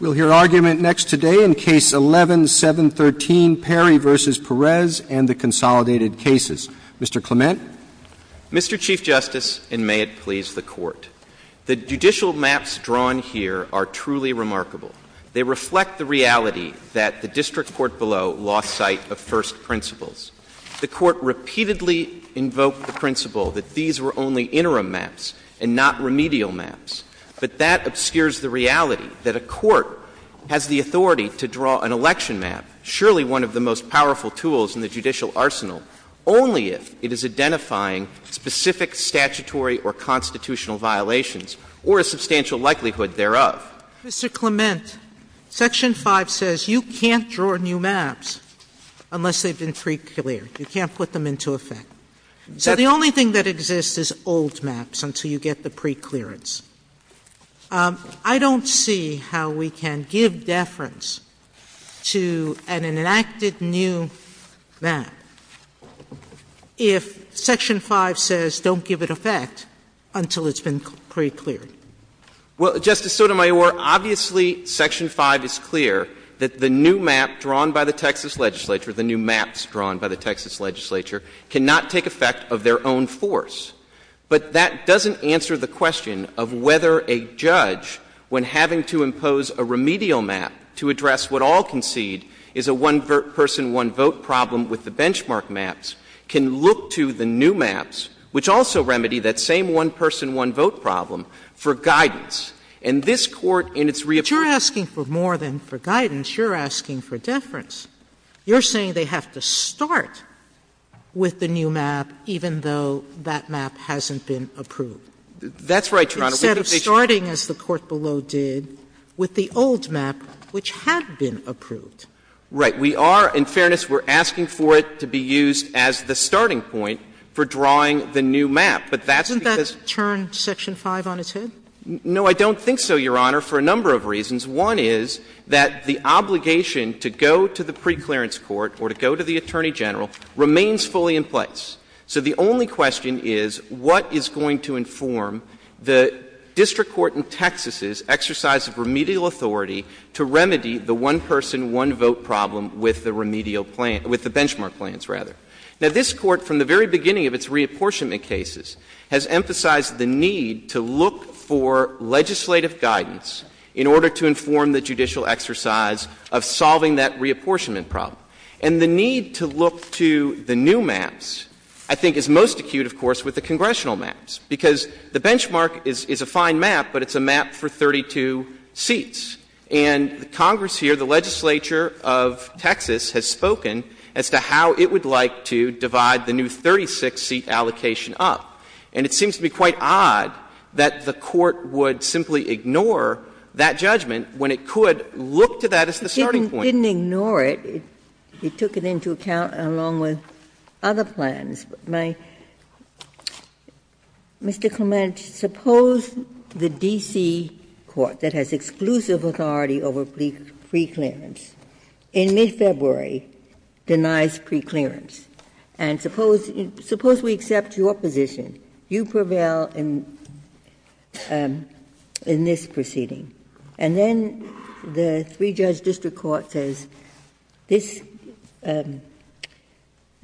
We'll hear argument next today in Case 11-713, Perry v. Perez and the Consolidated Cases. Mr. Clement. Mr. Chief Justice, and may it please the Court, the judicial maps drawn here are truly remarkable. They reflect the reality that the district court below lost sight of first principles. The Court repeatedly invoked the principle that these were only interim maps and not remedial maps. But that obscures the reality that a court has the authority to draw an election map, surely one of the most powerful tools in the judicial arsenal, only if it is identifying specific statutory or constitutional violations or a substantial likelihood thereof. Mr. Clement, Section 5 says you can't draw new maps unless they've been preclear. You can't put them into effect. So the only thing that exists is old maps until you get the preclearance. I don't see how we can give deference to an enacted new map if Section 5 says don't give it effect until it's been precleared. Well, Justice Sotomayor, obviously Section 5 is clear that the new map drawn by the Texas legislature cannot take effect of their own force. But that doesn't answer the question of whether a judge, when having to impose a remedial map to address what all concede is a one-person, one-vote problem with the benchmark maps, can look to the new maps, which also remedy that same one-person, one-vote problem, for guidance. And this Court in its reappearance — But you're asking for more than for guidance. You're asking for deference. You're saying they have to start with the new map even though that map hasn't been approved. That's right, Your Honor. Instead of starting, as the Court below did, with the old map, which had been approved. Right. We are, in fairness, we're asking for it to be used as the starting point for drawing the new map. But that's because — Doesn't that turn Section 5 on its head? No, I don't think so, Your Honor, for a number of reasons. One is that the obligation to go to the preclearance court or to go to the Attorney General remains fully in place. So the only question is, what is going to inform the district court in Texas's exercise of remedial authority to remedy the one-person, one-vote problem with the remedial plan — with the benchmark plans, rather? Now, this Court, from the very beginning of its reapportionment cases, has emphasized the need to look for legislative guidance in order to inform the judicial exercise of solving that reapportionment problem. And the need to look to the new maps, I think, is most acute, of course, with the congressional maps. Because the benchmark is a fine map, but it's a map for 32 seats. And Congress here, the legislature of Texas, has spoken as to how it would like to divide the new 36-seat allocation up. And it seems to be quite odd that the Court would simply ignore that judgment when it could look to that as the starting point. Ginsburg. It didn't ignore it. It took it into account along with other plans. My — Mr. Clement, suppose the D.C. court that has exclusive authority over preclearance in mid-February denies preclearance. And suppose we accept your position. You prevail in this proceeding. And then the three-judge district court says, this plan —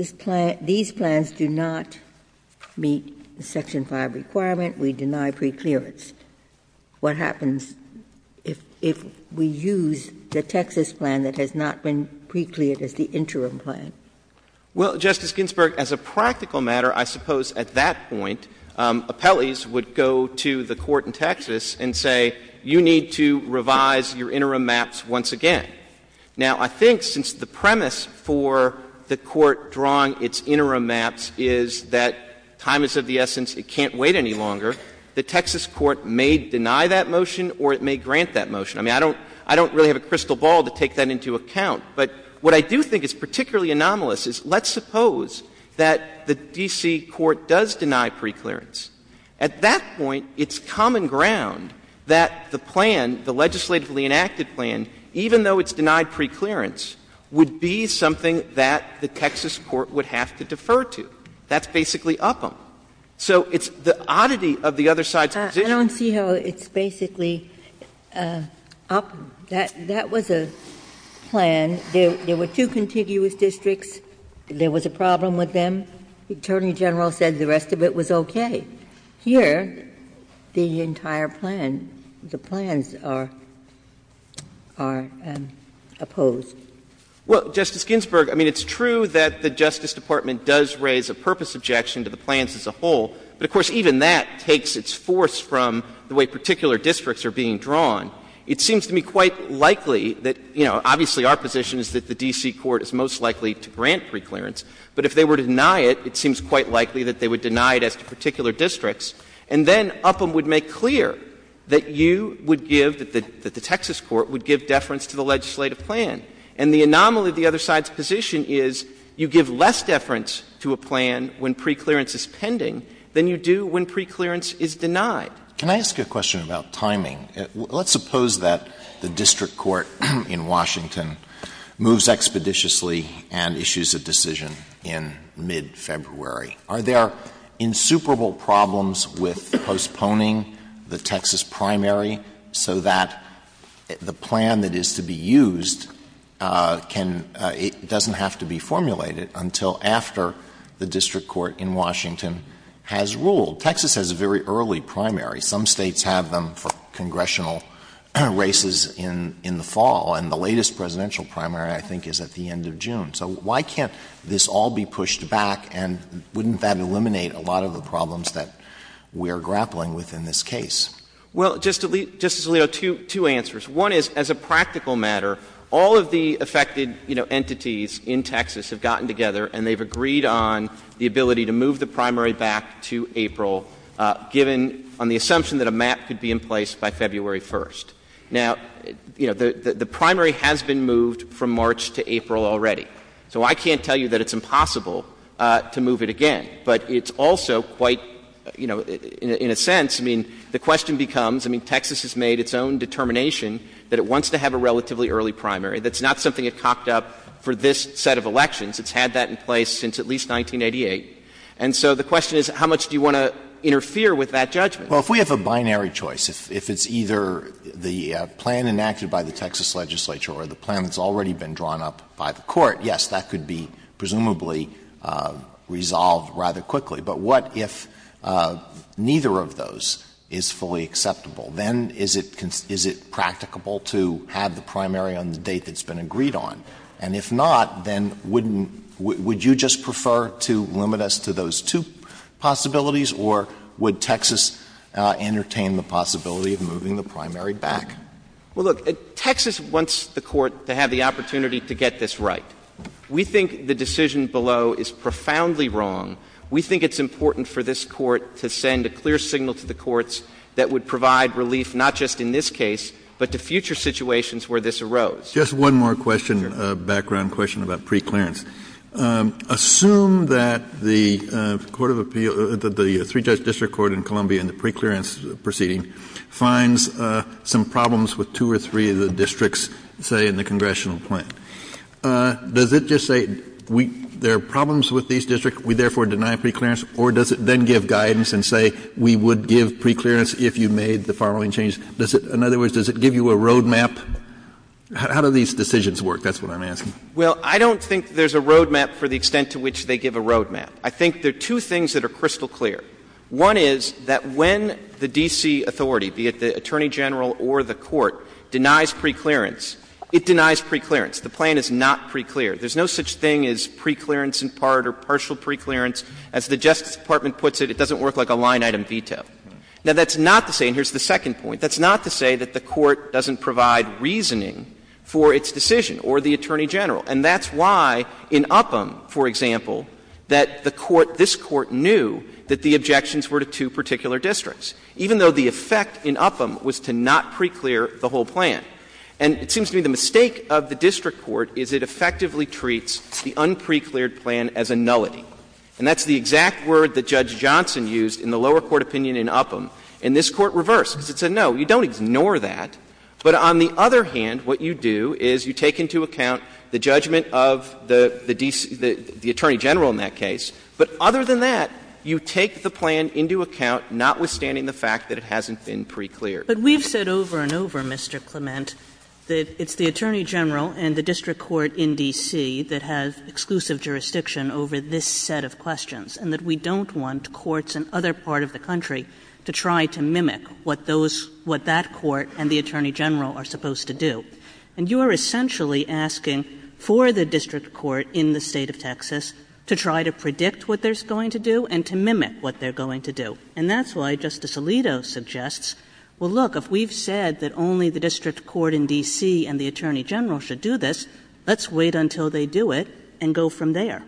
these plans do not meet the Section 5 requirement, we deny preclearance. What happens if we use the Texas plan that has not been precleared as the interim plan? Well, Justice Ginsburg, as a practical matter, I suppose at that point, appellees would go to the Court in Texas and say, you need to revise your interim maps once again. Now, I think since the premise for the Court drawing its interim maps is that time is of the essence, it can't wait any longer, the Texas court may deny that motion or it may grant that motion. I mean, I don't — I don't really have a crystal ball to take that into account. But what I do think is particularly anomalous is let's suppose that the D.C. court does deny preclearance. At that point, it's common ground that the plan, the legislatively enacted plan, even though it's denied preclearance, would be something that the Texas court would have to defer to. That's basically Upham. So it's the oddity of the other side's position. Ginsburg, I don't see how it's basically Upham. That was a plan. There were two contiguous districts. There was a problem with them. The Attorney General said the rest of it was okay. Here, the entire plan, the plans are opposed. Well, Justice Ginsburg, I mean, it's true that the Justice Department does raise a purpose objection to the plans as a whole. But, of course, even that takes its force from the way particular districts are being drawn. It seems to me quite likely that, you know, obviously our position is that the D.C. court is most likely to grant preclearance. But if they were to deny it, it seems quite likely that they would deny it as to particular districts. And then Upham would make clear that you would give — that the Texas court would give deference to the legislative plan. And the anomaly of the other side's position is you give less deference to a plan when preclearance is denied. Can I ask you a question about timing? Let's suppose that the district court in Washington moves expeditiously and issues a decision in mid-February. Are there insuperable problems with postponing the Texas primary so that the plan that is to be used can — doesn't have to be formulated until after the district court in Washington has ruled? Texas has a very early primary. Some States have them for congressional races in the fall. And the latest presidential primary, I think, is at the end of June. So why can't this all be pushed back? And wouldn't that eliminate a lot of the problems that we are grappling with in this case? Well, Justice Alito, two answers. One is, as a practical matter, all of the affected, you know, entities in Texas have gotten together and they've agreed on the ability to move the primary back to April given — on the assumption that a map could be in place by February 1st. Now, you know, the primary has been moved from March to April already. So I can't tell you that it's impossible to move it again. But it's also quite, you know, in a sense, I mean, the question becomes — I mean, Texas has made its own determination that it wants to have a relatively early primary. That's not something it cocked up for this set of elections. It's had that in place since at least 1988. And so the question is, how much do you want to interfere with that judgment? Alito, if we have a binary choice, if it's either the plan enacted by the Texas legislature or the plan that's already been drawn up by the Court, yes, that could be presumably resolved rather quickly. But what if neither of those is fully acceptable? Then is it practicable to have the primary on the date that's been agreed on? And if not, then wouldn't — would you just prefer to limit us to those two possibilities or would Texas entertain the possibility of moving the primary back? Well, look, Texas wants the Court to have the opportunity to get this right. We think the decision below is profoundly wrong. We think it's important for this Court to send a clear signal to the courts that would provide relief not just in this case, but to future situations where this arose. Just one more question, background question about preclearance. Assume that the Court of Appeal — that the three-judge district court in Columbia in the preclearance proceeding finds some problems with two or three of the districts, say, in the congressional plan. Does it just say there are problems with these districts, we therefore deny preclearance, or does it then give guidance and say, we would give preclearance if you made the following changes? Does it — in other words, does it give you a road map? How do these decisions work? That's what I'm asking. Well, I don't think there's a road map for the extent to which they give a road map. I think there are two things that are crystal clear. One is that when the D.C. authority, be it the Attorney General or the Court, denies preclearance, it denies preclearance. The plan is not preclear. There's no such thing as preclearance in part or partial preclearance. As the Justice Department puts it, it doesn't work like a line-item veto. Now, that's not to say — and here's the second point — that's not to say that the Court doesn't provide reasoning for its decision or the Attorney General. And that's why in Upham, for example, that the court — this court knew that the objections were to two particular districts, even though the effect in Upham was to not preclear the whole plan. And it seems to me the mistake of the district court is it effectively treats the unprecleared plan as a nullity. And that's the exact word that Judge Johnson used in the lower court opinion in Upham. And this Court reversed, because it said, no, you don't ignore that. But on the other hand, what you do is you take into account the judgment of the D.C. — the Attorney General in that case. But other than that, you take the plan into account, notwithstanding the fact that it hasn't been precleared. Kagan. But we've said over and over, Mr. Clement, that it's the Attorney General and the district court in D.C. that have exclusive jurisdiction over this set of questions, and that we don't want courts in other part of the country to try to mimic what those — what that court and the Attorney General are supposed to do. And you are essentially asking for the district court in the State of Texas to try to predict what they're going to do and to mimic what they're going to do. And that's why Justice Alito suggests, well, look, if we've said that only the district court in D.C. and the Attorney General should do this, let's wait until they do it and go from there.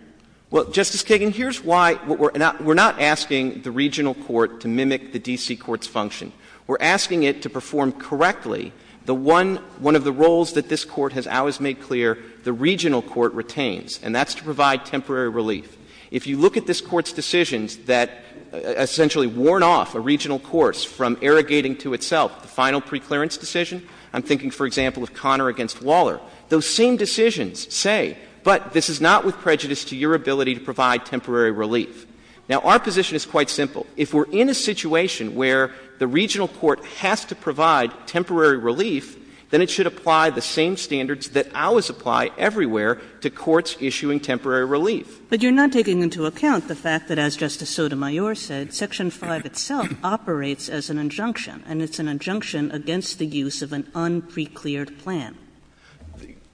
Well, Justice Kagan, here's why — we're not — we're not asking the regional court to mimic the D.C. court's function. We're asking it to perform correctly the one — one of the roles that this court has always made clear the regional court retains, and that's to provide temporary relief. If you look at this Court's decisions that essentially worn off a regional course from irrigating to itself, the final preclearance decision — I'm thinking, for example, of Conner v. Waller — those same decisions say, but this is not with prejudice to your ability to provide temporary relief. Now, our position is quite simple. If we're in a situation where the regional court has to provide temporary relief, then it should apply the same standards that ours apply everywhere to courts issuing temporary relief. But you're not taking into account the fact that, as Justice Sotomayor said, Section 5 itself operates as an injunction, and it's an injunction against the use of an unprecleared plan.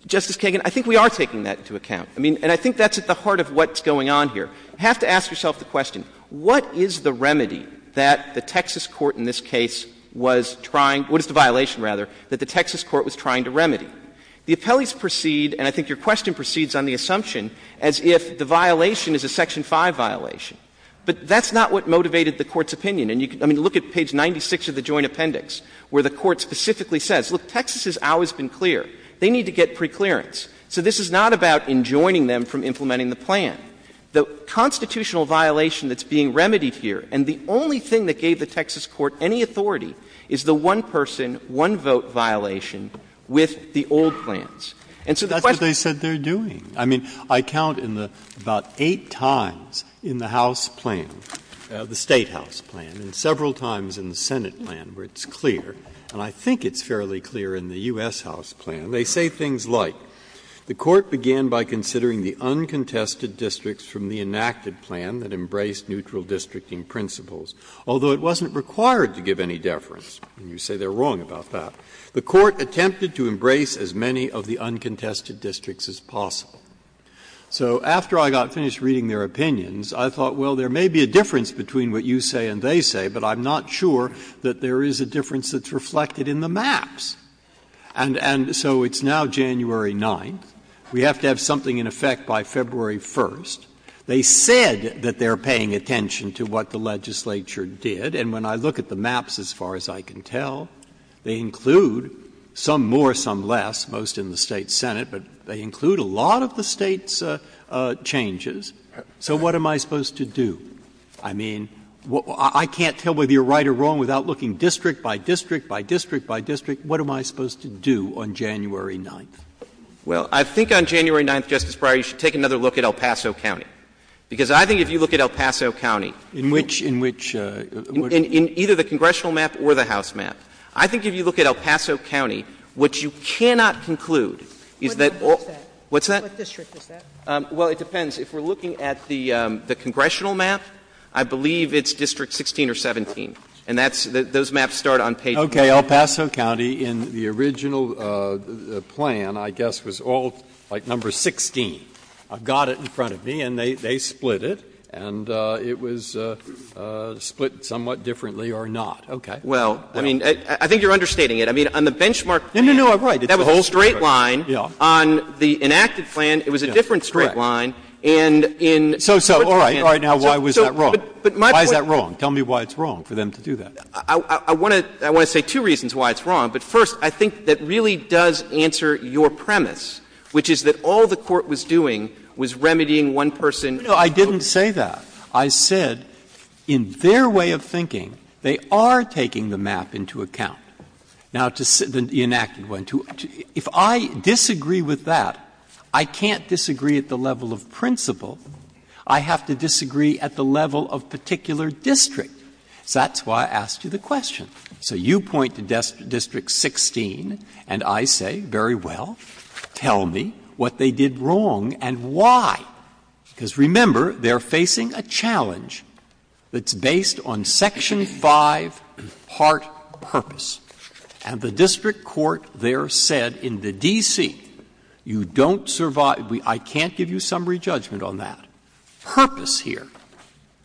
Justice Kagan, I think we are taking that into account. I mean, and I think that's at the heart of what's going on here. You have to ask yourself the question, what is the remedy that the Texas court in this case was trying — what is the violation, rather, that the Texas court was trying to remedy? The appellees proceed, and I think your question proceeds on the assumption, as if the violation is a Section 5 violation. But that's not what motivated the Court's opinion. And you can — I mean, look at page 96 of the Joint Appendix, where the Court specifically says, look, Texas has always been clear. They need to get preclearance. So this is not about enjoining them from implementing the plan. The constitutional violation that's being remedied here, and the only thing that gave the Texas court any authority, is the one-person, one-vote violation with the old plans. And so the question— Breyer. Breyer. And I think it's fairly clear in the U.S. House plan, they say things like, the Court began by considering the uncontested districts from the enacted plan that embraced neutral districting principles, although it wasn't required to give any deference. And you say they're wrong about that. The Court attempted to embrace as many of the uncontested districts as possible. And when I finished reading their opinions, I thought, well, there may be a difference between what you say and they say, but I'm not sure that there is a difference that's reflected in the maps. And so it's now January 9th. We have to have something in effect by February 1st. They said that they're paying attention to what the legislature did. And when I look at the maps, as far as I can tell, they include some more, some less, most in the State Senate, but they include a lot of the State's changes. So what am I supposed to do? I mean, I can't tell whether you're right or wrong without looking district by district by district by district. What am I supposed to do on January 9th? Well, I think on January 9th, Justice Breyer, you should take another look at El Paso County. Because I think if you look at El Paso County— In which — in which? In either the congressional map or the House map. I think if you look at El Paso County, what you cannot conclude is that all— What district is that? What's that? What district is that? Well, it depends. If we're looking at the congressional map, I believe it's district 16 or 17. And that's — those maps start on page— Okay. El Paso County in the original plan, I guess, was all like number 16. I've got it in front of me and they split it. And it was split somewhat differently or not. Okay. Well, I mean, I think you're understating it. I mean, on the benchmark plan— No, no, no. I'm right. That was a straight line. Yeah. On the enacted plan, it was a different straight line. Correct. And in— So, so. All right. All right. Now, why was that wrong? But my point— Why is that wrong? Tell me why it's wrong for them to do that. I want to — I want to say two reasons why it's wrong. But first, I think that really does answer your premise, which is that all the Court was doing was remedying one person— No, I didn't say that. I said, in their way of thinking, they are taking the map into account. Now, the enacted one, if I disagree with that, I can't disagree at the level of principle. I have to disagree at the level of particular district. So that's why I asked you the question. So you point to District 16 and I say, very well, tell me what they did wrong and why. Because, remember, they are facing a challenge that's based on Section 5, part purpose. And the district court there said in the D.C., you don't survive — I can't give you summary judgment on that. Purpose here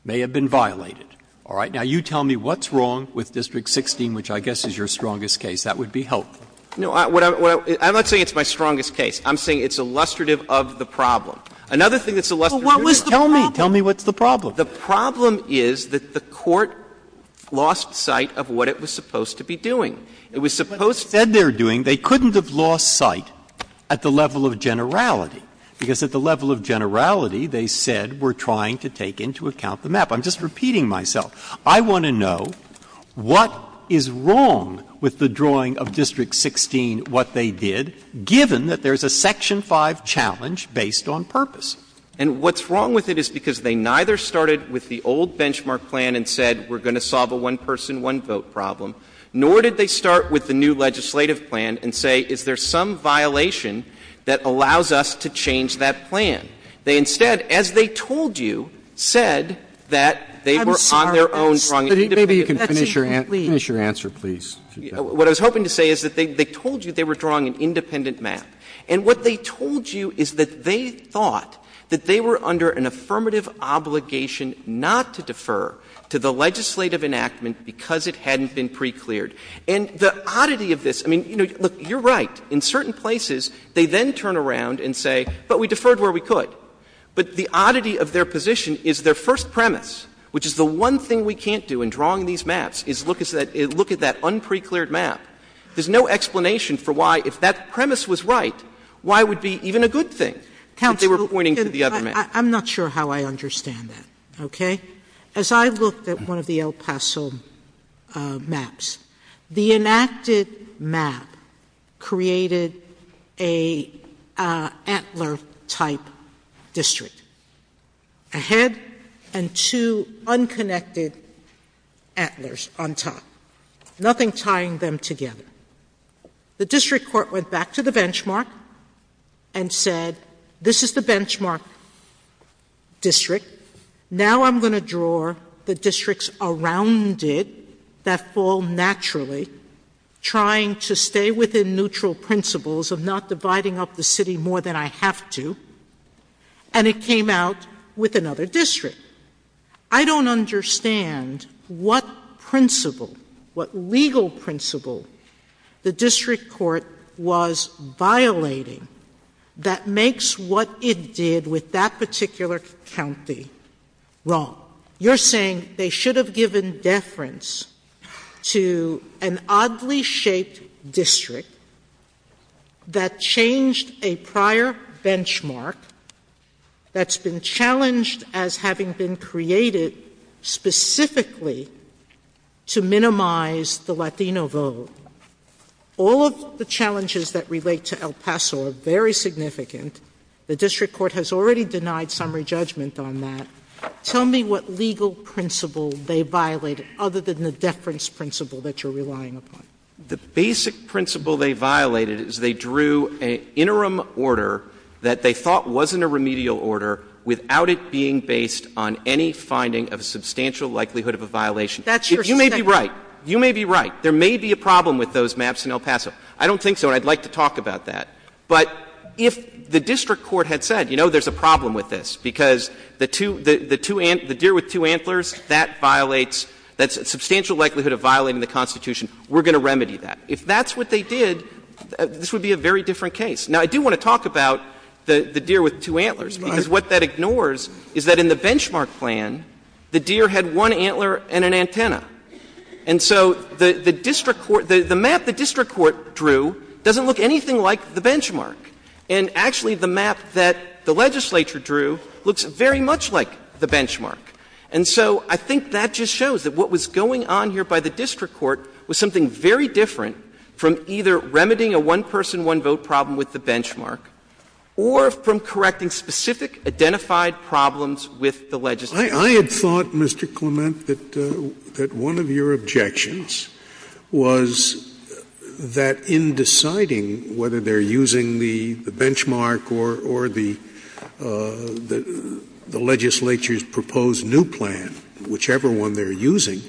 may have been violated. All right? Now, you tell me what's wrong with District 16, which I guess is your strongest case. That would be helpful. No, I'm not saying it's my strongest case. I'm saying it's illustrative of the problem. Another thing that's illustrative of the problem is that the court lost sight of what it was supposed to be doing. It was supposed to be doing what it was supposed to be doing. Breyer. They couldn't have lost sight at the level of generality, because at the level of generality, they said we're trying to take into account the map. I'm just repeating myself. I want to know what is wrong with the drawing of District 16, what they did, given that there's a Section 5 challenge based on purpose. And what's wrong with it is because they neither started with the old benchmark plan and said we're going to solve a one-person, one-vote problem, nor did they start with the new legislative plan and say is there some violation that allows us to change that plan. They instead, as they told you, said that they were on their own drawing an independent map. I'm sorry. That's even more. Maybe you can finish your answer, please. What I was hoping to say is that they told you they were drawing an independent map. And what they told you is that they thought that they were under an affirmative obligation not to defer to the legislative enactment because it hadn't been precleared. And the oddity of this, I mean, you know, look, you're right. In certain places, they then turn around and say, but we deferred where we could. But the oddity of their position is their first premise, which is the one thing we can't do in drawing these maps, is look at that unprecleared map. There's no explanation for why, if that premise was right, why would be even a good thing if they were pointing to the other map? Counsel, I'm not sure how I understand that, okay? As I looked at one of the El Paso maps, the enacted map created an antler-type district, a head and two unconnected antlers on top, nothing tying them together. The district court went back to the benchmark and said, this is the benchmark district, now I'm going to draw the districts around it that fall naturally, trying to stay within neutral principles of not dividing up the city more than I have to, and it came out with another district. I don't understand what principle, what legal principle the district court was violating that makes what it did with that particular county wrong. You're saying they should have given deference to an oddly shaped district that changed a prior benchmark that's been challenged as having been created specifically to minimize the Latino vote. All of the challenges that relate to El Paso are very significant. The district court has already denied summary judgment on that. Tell me what legal principle they violated, other than the deference principle that you're relying upon. The basic principle they violated is they drew an interim order that they thought wasn't a remedial order without it being based on any finding of substantial likelihood of a violation. If you may be right, you may be right. There may be a problem with those maps in El Paso. I don't think so, and I'd like to talk about that. But if the district court had said, you know, there's a problem with this because the two, the deer with two antlers, that violates, that's a substantial likelihood of violating the Constitution. We're going to remedy that. If that's what they did, this would be a very different case. Now, I do want to talk about the deer with two antlers, because what that ignores is that in the benchmark plan, the deer had one antler and an antenna. And so the district court, the map the district court drew doesn't look anything like the benchmark. And so I think that just shows that what was going on here by the district court was something very different from either remedying a one-person, one-vote problem with the benchmark or from correcting specific identified problems with the legislature. Scalia. I had thought, Mr. Clement, that one of your objections was that in deciding whether they're using the benchmark or the legislature's proposed benchmark or the legislature's proposed new plan, whichever one they're using,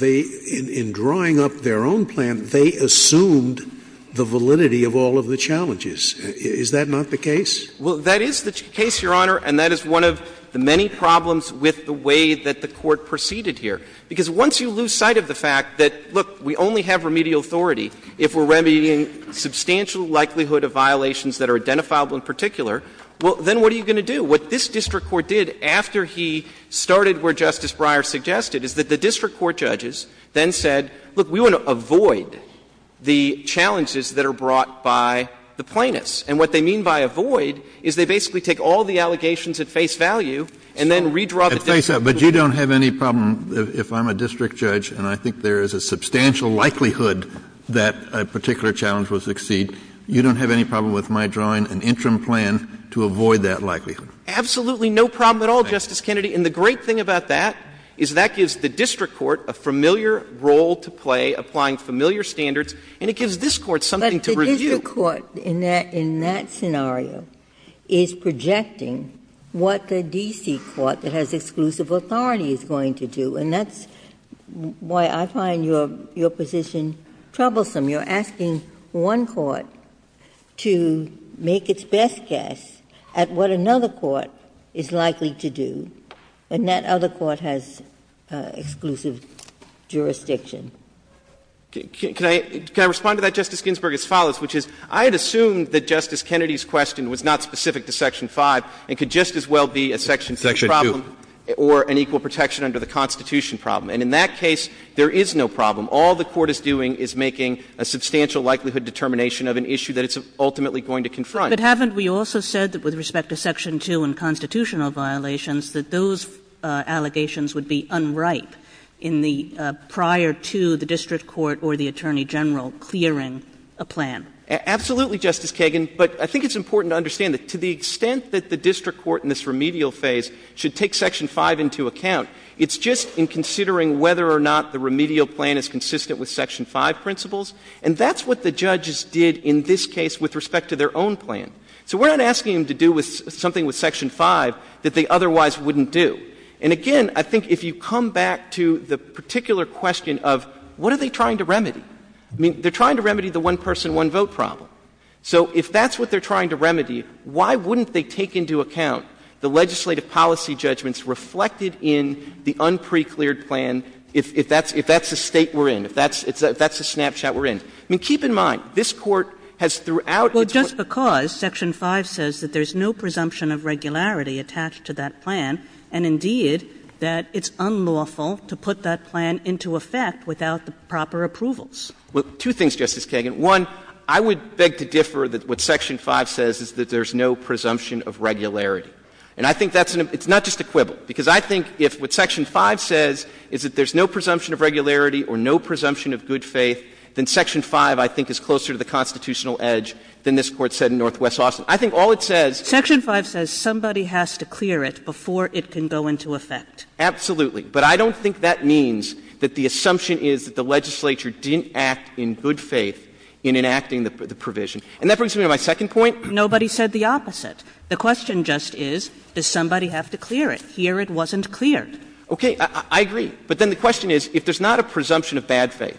in drawing up their own plan, they assumed the validity of all of the challenges. Is that not the case? Well, that is the case, Your Honor, and that is one of the many problems with the way that the Court proceeded here. Because once you lose sight of the fact that, look, we only have remedial authority if we're remedying substantial likelihood of violations that are identifiable in particular, well, then what are you going to do? So what this district court did after he started where Justice Breyer suggested is that the district court judges then said, look, we want to avoid the challenges that are brought by the plaintiffs. And what they mean by avoid is they basically take all the allegations at face value and then redraw the district court's plan. But you don't have any problem, if I'm a district judge and I think there is a substantial likelihood that a particular challenge will succeed, you don't have any problem with my drawing an interim plan to avoid that likelihood. Absolutely no problem at all, Justice Kennedy. And the great thing about that is that gives the district court a familiar role to play, applying familiar standards, and it gives this Court something to review. But the district court in that scenario is projecting what the D.C. court that has exclusive authority is going to do. And that's why I find your position troublesome. You are asking one court to make its best guess at what another court is likely to do, and that other court has exclusive jurisdiction. Can I respond to that, Justice Ginsburg, as follows, which is I had assumed that Justice Kennedy's question was not specific to Section 5 and could just as well be a Section 2 problem or an equal protection under the Constitution problem. And in that case, there is no problem. All the Court is doing is making a substantial likelihood determination of an issue that it's ultimately going to confront. But haven't we also said that with respect to Section 2 and constitutional violations that those allegations would be unripe in the prior to the district court or the Attorney General clearing a plan? Absolutely, Justice Kagan, but I think it's important to understand that to the extent that the district court in this remedial phase should take Section 5 into account, it's just in considering whether or not the remedial plan is consistent with Section 5 principles. And that's what the judges did in this case with respect to their own plan. So we are not asking them to do something with Section 5 that they otherwise wouldn't do. And again, I think if you come back to the particular question of what are they trying to remedy, I mean, they are trying to remedy the one-person, one-vote problem. So if that's what they are trying to remedy, why wouldn't they take into account the legislative policy judgments reflected in the unprecleared plan if that's the State we are in, if that's the snapshot we are in? I mean, keep in mind, this Court has throughout its work. Well, just because Section 5 says that there is no presumption of regularity attached to that plan, and indeed that it's unlawful to put that plan into effect without the proper approvals. Well, two things, Justice Kagan. One, I would beg to differ that what Section 5 says is that there is no presumption of regularity. And I think that's an — it's not just a quibble. Because I think if what Section 5 says is that there is no presumption of regularity or no presumption of good faith, then Section 5 I think is closer to the constitutional edge than this Court said in Northwest Austin. I think all it says — Kagan. Section 5 says somebody has to clear it before it can go into effect. Absolutely. But I don't think that means that the assumption is that the legislature didn't act in good faith in enacting the provision. And that brings me to my second point. Nobody said the opposite. The question just is, does somebody have to clear it? Here it wasn't cleared. Okay. I agree. But then the question is, if there's not a presumption of bad faith,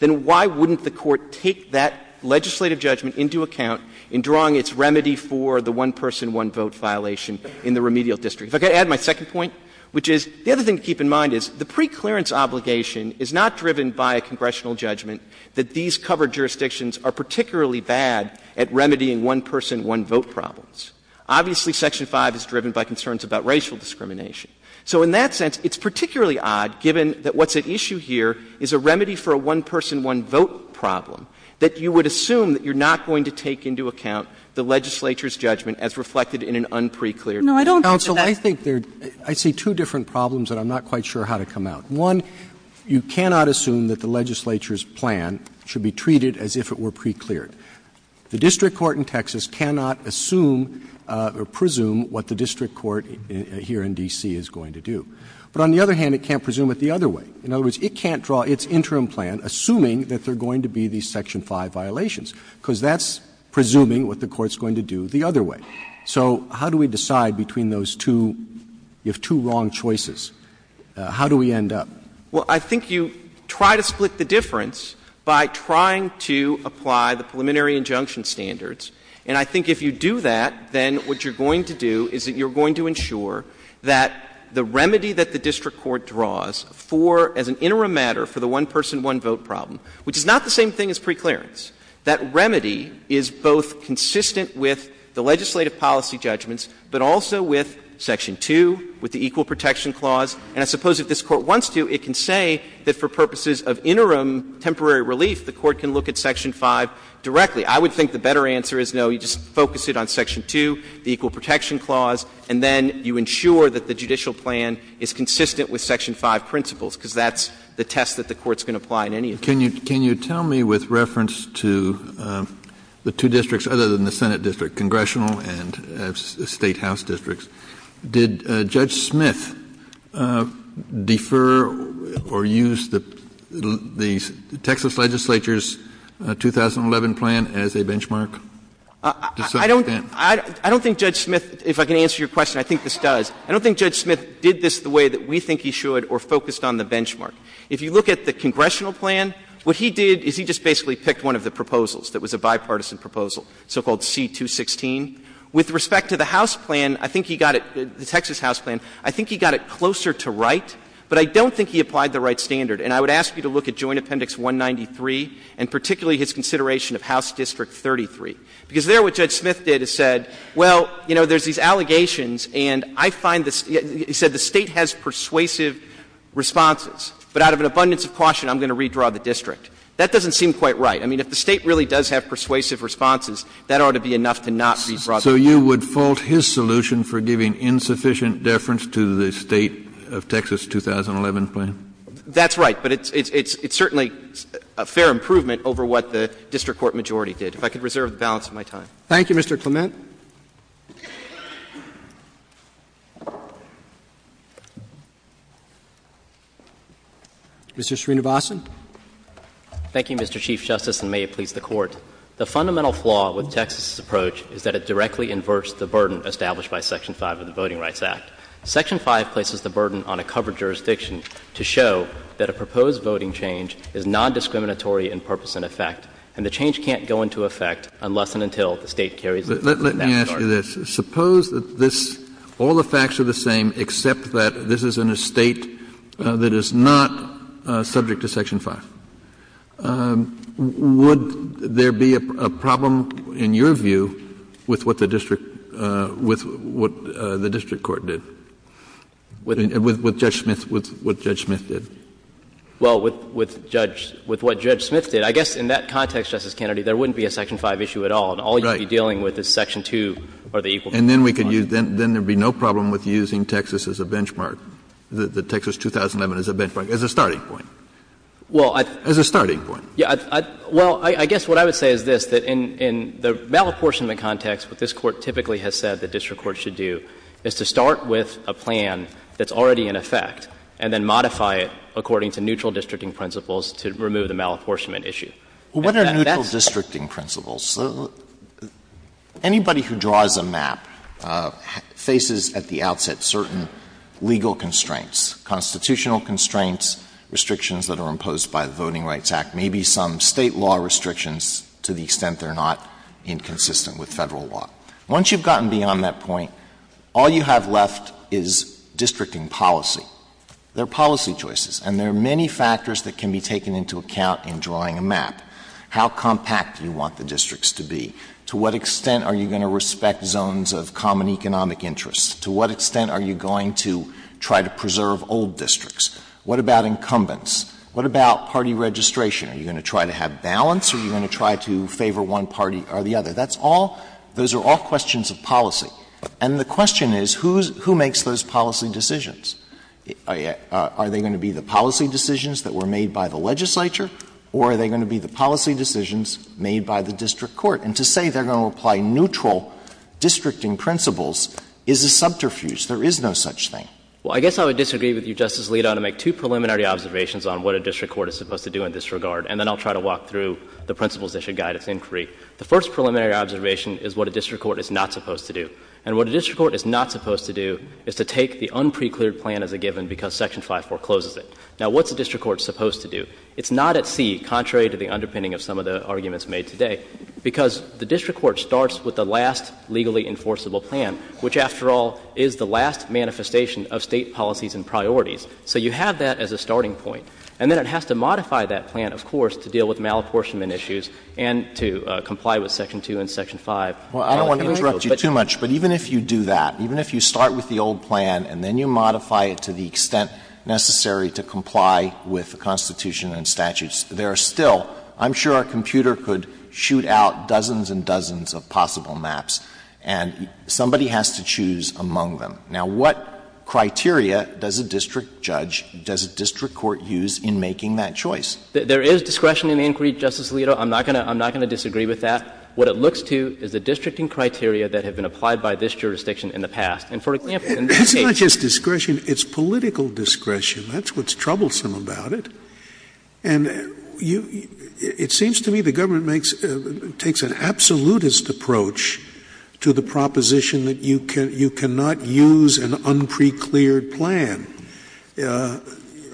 then why wouldn't the Court take that legislative judgment into account in drawing its remedy for the one-person, one-vote violation in the remedial district? If I could add my second point, which is the other thing to keep in mind is the preclearance obligation is not driven by a congressional judgment that these covered jurisdictions are particularly bad at remedying one-person, one-vote problems. Obviously, Section 5 is driven by concerns about racial discrimination. So in that sense, it's particularly odd, given that what's at issue here is a remedy for a one-person, one-vote problem, that you would assume that you're not going to take into account the legislature's judgment as reflected in an unprecleared provision. No, I don't think that that's — Counsel, I think there are, I'd say, two different problems that I'm not quite sure how to come out. One, you cannot assume that the legislature's plan should be treated as if it were precleared. The district court in Texas cannot assume or presume what the district court here in D.C. is going to do. But on the other hand, it can't presume it the other way. In other words, it can't draw its interim plan assuming that there are going to be these Section 5 violations, because that's presuming what the court is going to do the other way. So how do we decide between those two? You have two wrong choices. How do we end up? Well, I think you try to split the difference by trying to apply the preliminary injunction standards. And I think if you do that, then what you're going to do is that you're going to ensure that the remedy that the district court draws for, as an interim matter for the one-person, one-vote problem, which is not the same thing as preclearance, that remedy is both consistent with the legislative policy judgments, but also with Section 2, with the Equal Protection Clause. And I suppose if this Court wants to, it can say that for purposes of interim temporary relief, the Court can look at Section 5 directly. I would think the better answer is, no, you just focus it on Section 2, the Equal Protection Clause, and then you ensure that the judicial plan is consistent with Section 5 principles, because that's the test that the Court's going to apply in any of these cases. Kennedy. Can you tell me, with reference to the two districts other than the Senate district, the congressional and Statehouse districts, did Judge Smith defer or use the Texas legislature's 2011 plan as a benchmark to some extent? I don't think Judge Smith, if I can answer your question, I think this does. I don't think Judge Smith did this the way that we think he should or focused on the benchmark. If you look at the congressional plan, what he did is he just basically picked one of the proposals that was a bipartisan proposal, so-called C-216. With respect to the House plan, I think he got it — the Texas House plan, I think he got it closer to right, but I don't think he applied the right standard. And I would ask you to look at Joint Appendix 193 and particularly his consideration of House District 33, because there what Judge Smith did is said, well, you know, there's these allegations and I find the — he said the State has persuasive responses, but out of an abundance of caution, I'm going to redraw the district. That doesn't seem quite right. I mean, if the State really does have persuasive responses, that ought to be enough to not redraw the district. Kennedy. So you would fault his solution for giving insufficient deference to the State of Texas 2011 plan? That's right. But it's certainly a fair improvement over what the district court majority did. If I could reserve the balance of my time. Thank you, Mr. Clement. Mr. Srinivasan. Thank you, Mr. Chief Justice, and may it please the Court. The fundamental flaw with Texas's approach is that it directly inverts the burden established by Section 5 of the Voting Rights Act. Section 5 places the burden on a covered jurisdiction to show that a proposed voting change is nondiscriminatory in purpose and effect, and the change can't go into effect unless and until the State carries it. Let me ask you this. Suppose that this — all the facts are the same except that this is in a State that is not subject to Section 5. Would there be a problem, in your view, with what the district — with what the district court did? With Judge Smith — with what Judge Smith did? Well, with Judge — with what Judge Smith did, I guess in that context, Justice Kennedy, there wouldn't be a Section 5 issue at all. Right. And all you'd be dealing with is Section 2 or the equal — And then we could use — then there would be no problem with using Texas as a benchmark, the Texas 2011 as a benchmark, as a starting point. Well, I — As a starting point. Well, I guess what I would say is this, that in the malapportionment context, what this Court typically has said the district court should do is to start with a plan that's already in effect and then modify it according to neutral districting principles to remove the malapportionment issue. What are neutral districting principles? Anybody who draws a map faces at the outset certain legal constraints, constitutional constraints, restrictions that are imposed by the Voting Rights Act, maybe some State law restrictions to the extent they're not inconsistent with Federal law. Once you've gotten beyond that point, all you have left is districting policy. There are policy choices, and there are many factors that can be taken into account in drawing a map. How compact do you want the districts to be? To what extent are you going to respect zones of common economic interest? To what extent are you going to try to preserve old districts? What about incumbents? What about party registration? Are you going to try to have balance? Are you going to try to favor one party or the other? That's all — those are all questions of policy. And the question is, who makes those policy decisions? Are they going to be the policy decisions that were made by the legislature, or are they going to be the policy decisions made by the district court? And to say they're going to apply neutral districting principles is a subterfuge. There is no such thing. Well, I guess I would disagree with you, Justice Alito, to make two preliminary observations on what a district court is supposed to do in this regard, and then I'll try to walk through the principles that should guide its inquiry. The first preliminary observation is what a district court is not supposed to do. And what a district court is not supposed to do is to take the unprecleared plan as a given because Section 5-4 closes it. Now, what's a district court supposed to do? It's not at sea, contrary to the underpinning of some of the arguments made today, because the district court starts with the last legally enforceable plan, which after all is the last manifestation of State policies and priorities. So you have that as a starting point. And then it has to modify that plan, of course, to deal with malapportionment issues and to comply with Section 2 and Section 5. Well, I don't want to interrupt you too much, but even if you do that, even if you start with the old plan and then you modify it to the extent necessary to comply with the Constitution and statutes, there are still, I'm sure a computer could shoot out dozens and dozens of possible maps, and somebody has to choose among them. Now, what criteria does a district judge, does a district court use in making that choice? There is discretion in the inquiry, Justice Alito. I'm not going to disagree with that. What it looks to is the districting criteria that have been applied by this jurisdiction in the past. And for example, in this case. It's not just discretion. It's political discretion. That's what's troublesome about it. And you — it seems to me the government makes — takes an absolutist approach to the proposition that you cannot use an unprecleared plan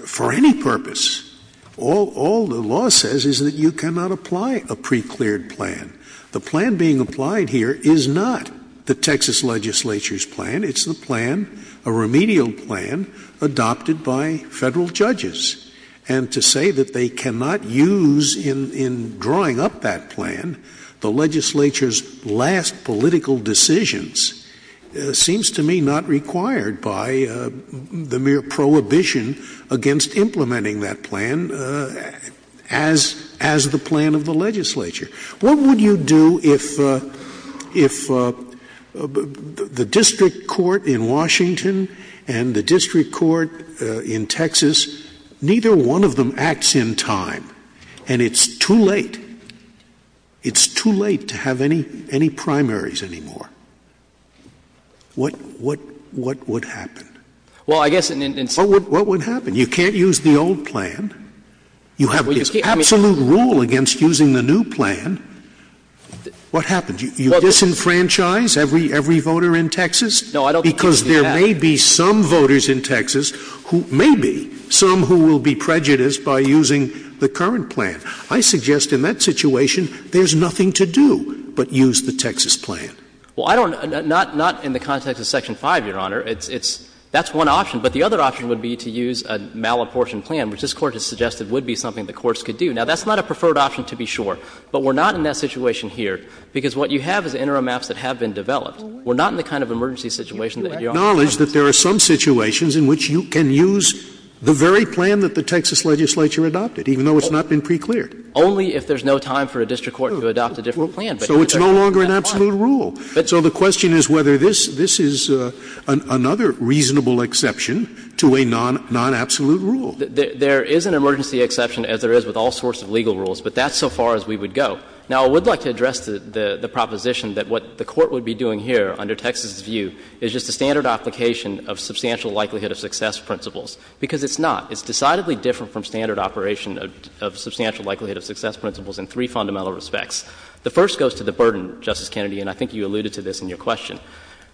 for any purpose. All the law says is that you cannot apply a precleared plan. The plan being applied here is not the Texas legislature's plan. It's the plan, a remedial plan, adopted by Federal judges. And to say that they cannot use in drawing up that plan the legislature's last political decisions seems to me not required by the mere prohibition against implementing that plan as the plan of the legislature. What would you do if the district court in Washington and the district court in Texas, neither one of them acts in time and it's too late? It's too late to have any primaries anymore. What would happen? What would happen? You can't use the old plan. You have this absolute rule against using the new plan. What happens? You disenfranchise every voter in Texas? No, I don't think you can do that. Because there may be some voters in Texas who — maybe some who will be prejudiced by using the current plan. I suggest in that situation there's nothing to do but use the Texas plan. Well, I don't — not in the context of Section 5, Your Honor. It's — that's one option. But the other option would be to use a malapportioned plan, which this Court has suggested would be something the courts could do. Now, that's not a preferred option, to be sure. But we're not in that situation here, because what you have is interim maps that have been developed. We're not in the kind of emergency situation that Your Honor wants. You have to acknowledge that there are some situations in which you can use the very plan that the Texas legislature adopted, even though it's not been precleared. Only if there's no time for a district court to adopt a different plan. So it's no longer an absolute rule. So the question is whether this — this is another reasonable exception to a non-absolute rule. There is an emergency exception, as there is with all sorts of legal rules, but that's so far as we would go. Now, I would like to address the proposition that what the Court would be doing here under Texas' view is just a standard application of substantial likelihood of success principles, because it's not. It's decidedly different from standard operation of substantial likelihood of success principles in three fundamental respects. The first goes to the burden, Justice Kennedy, and I think you alluded to this in your question.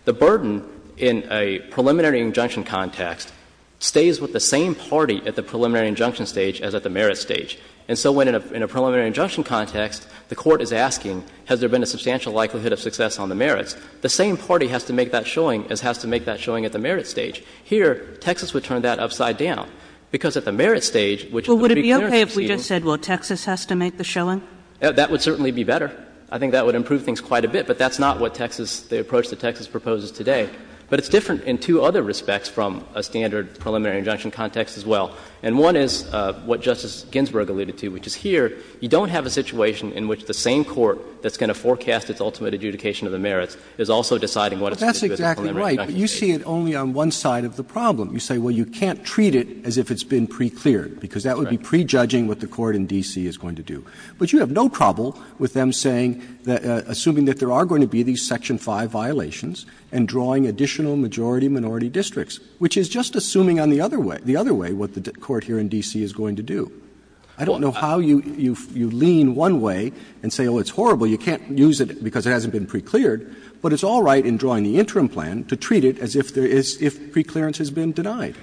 The burden in a preliminary injunction context stays with the same party at the preliminary injunction stage as at the merit stage. And so when in a preliminary injunction context, the Court is asking has there been a substantial likelihood of success on the merits, the same party has to make that showing as has to make that showing at the merit stage. Here, Texas would turn that upside down, because at the merit stage, which is the preclearance proceeding. Kagan. But you just said, well, Texas has to make the showing? That would certainly be better. I think that would improve things quite a bit. But that's not what Texas, the approach that Texas proposes today. But it's different in two other respects from a standard preliminary injunction context as well. And one is what Justice Ginsburg alluded to, which is here, you don't have a situation in which the same court that's going to forecast its ultimate adjudication of the merits is also deciding what it's going to do at the preliminary injunction stage. But that's exactly right. But you see it only on one side of the problem. You say, well, you can't treat it as if it's been precleared, because that would be prejudging what the court in D.C. is going to do. But you have no trouble with them saying, assuming that there are going to be these section 5 violations, and drawing additional majority-minority districts, which is just assuming on the other way what the court here in D.C. is going to do. I don't know how you lean one way and say, oh, it's horrible, you can't use it because it hasn't been precleared, but it's all right in drawing the interim plan to treat it as if preclearance has been denied.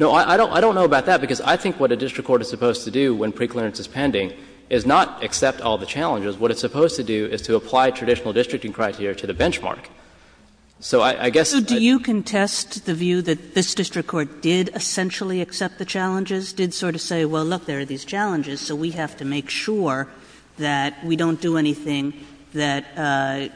No, I don't know about that, because I think what a district court is supposed to do when preclearance is pending is not accept all the challenges. What it's supposed to do is to apply traditional districting criteria to the benchmark. So I guess I'd be— Kagan. So do you contest the view that this district court did essentially accept the challenges, did sort of say, well, look, there are these challenges, so we have to make sure that we don't do anything that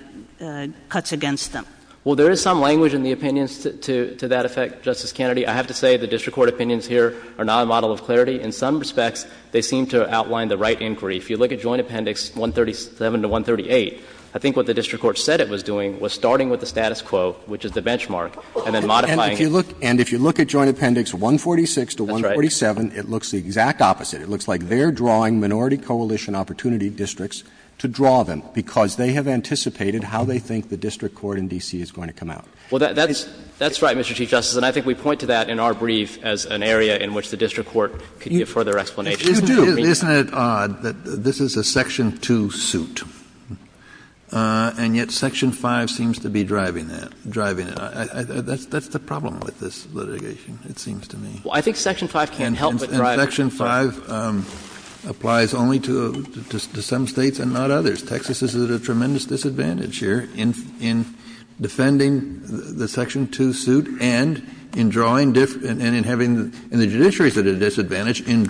cuts against them? Well, there is some language in the opinions to that effect, Justice Kennedy. I have to say the district court opinions here are not a model of clarity. In some respects, they seem to outline the right inquiry. If you look at Joint Appendix 137 to 138, I think what the district court said it was doing was starting with the status quo, which is the benchmark, and then modifying it. And if you look at Joint Appendix 146 to 147, it looks the exact opposite. It looks like they're drawing minority coalition opportunity districts to draw them because they have anticipated how they think the district court in D.C. is going to come out. Well, that's right, Mr. Chief Justice, and I think we point to that in our brief as an area in which the district court could give further explanation. Isn't it odd that this is a Section 2 suit, and yet Section 5 seems to be driving that, driving it? That's the problem with this litigation, it seems to me. Well, I think Section 5 can't help but drive it. And Section 5 applies only to some States and not others. Texas is at a tremendous disadvantage here in defending the Section 2 suit and in drawing different — and in having the judiciaries at a disadvantage in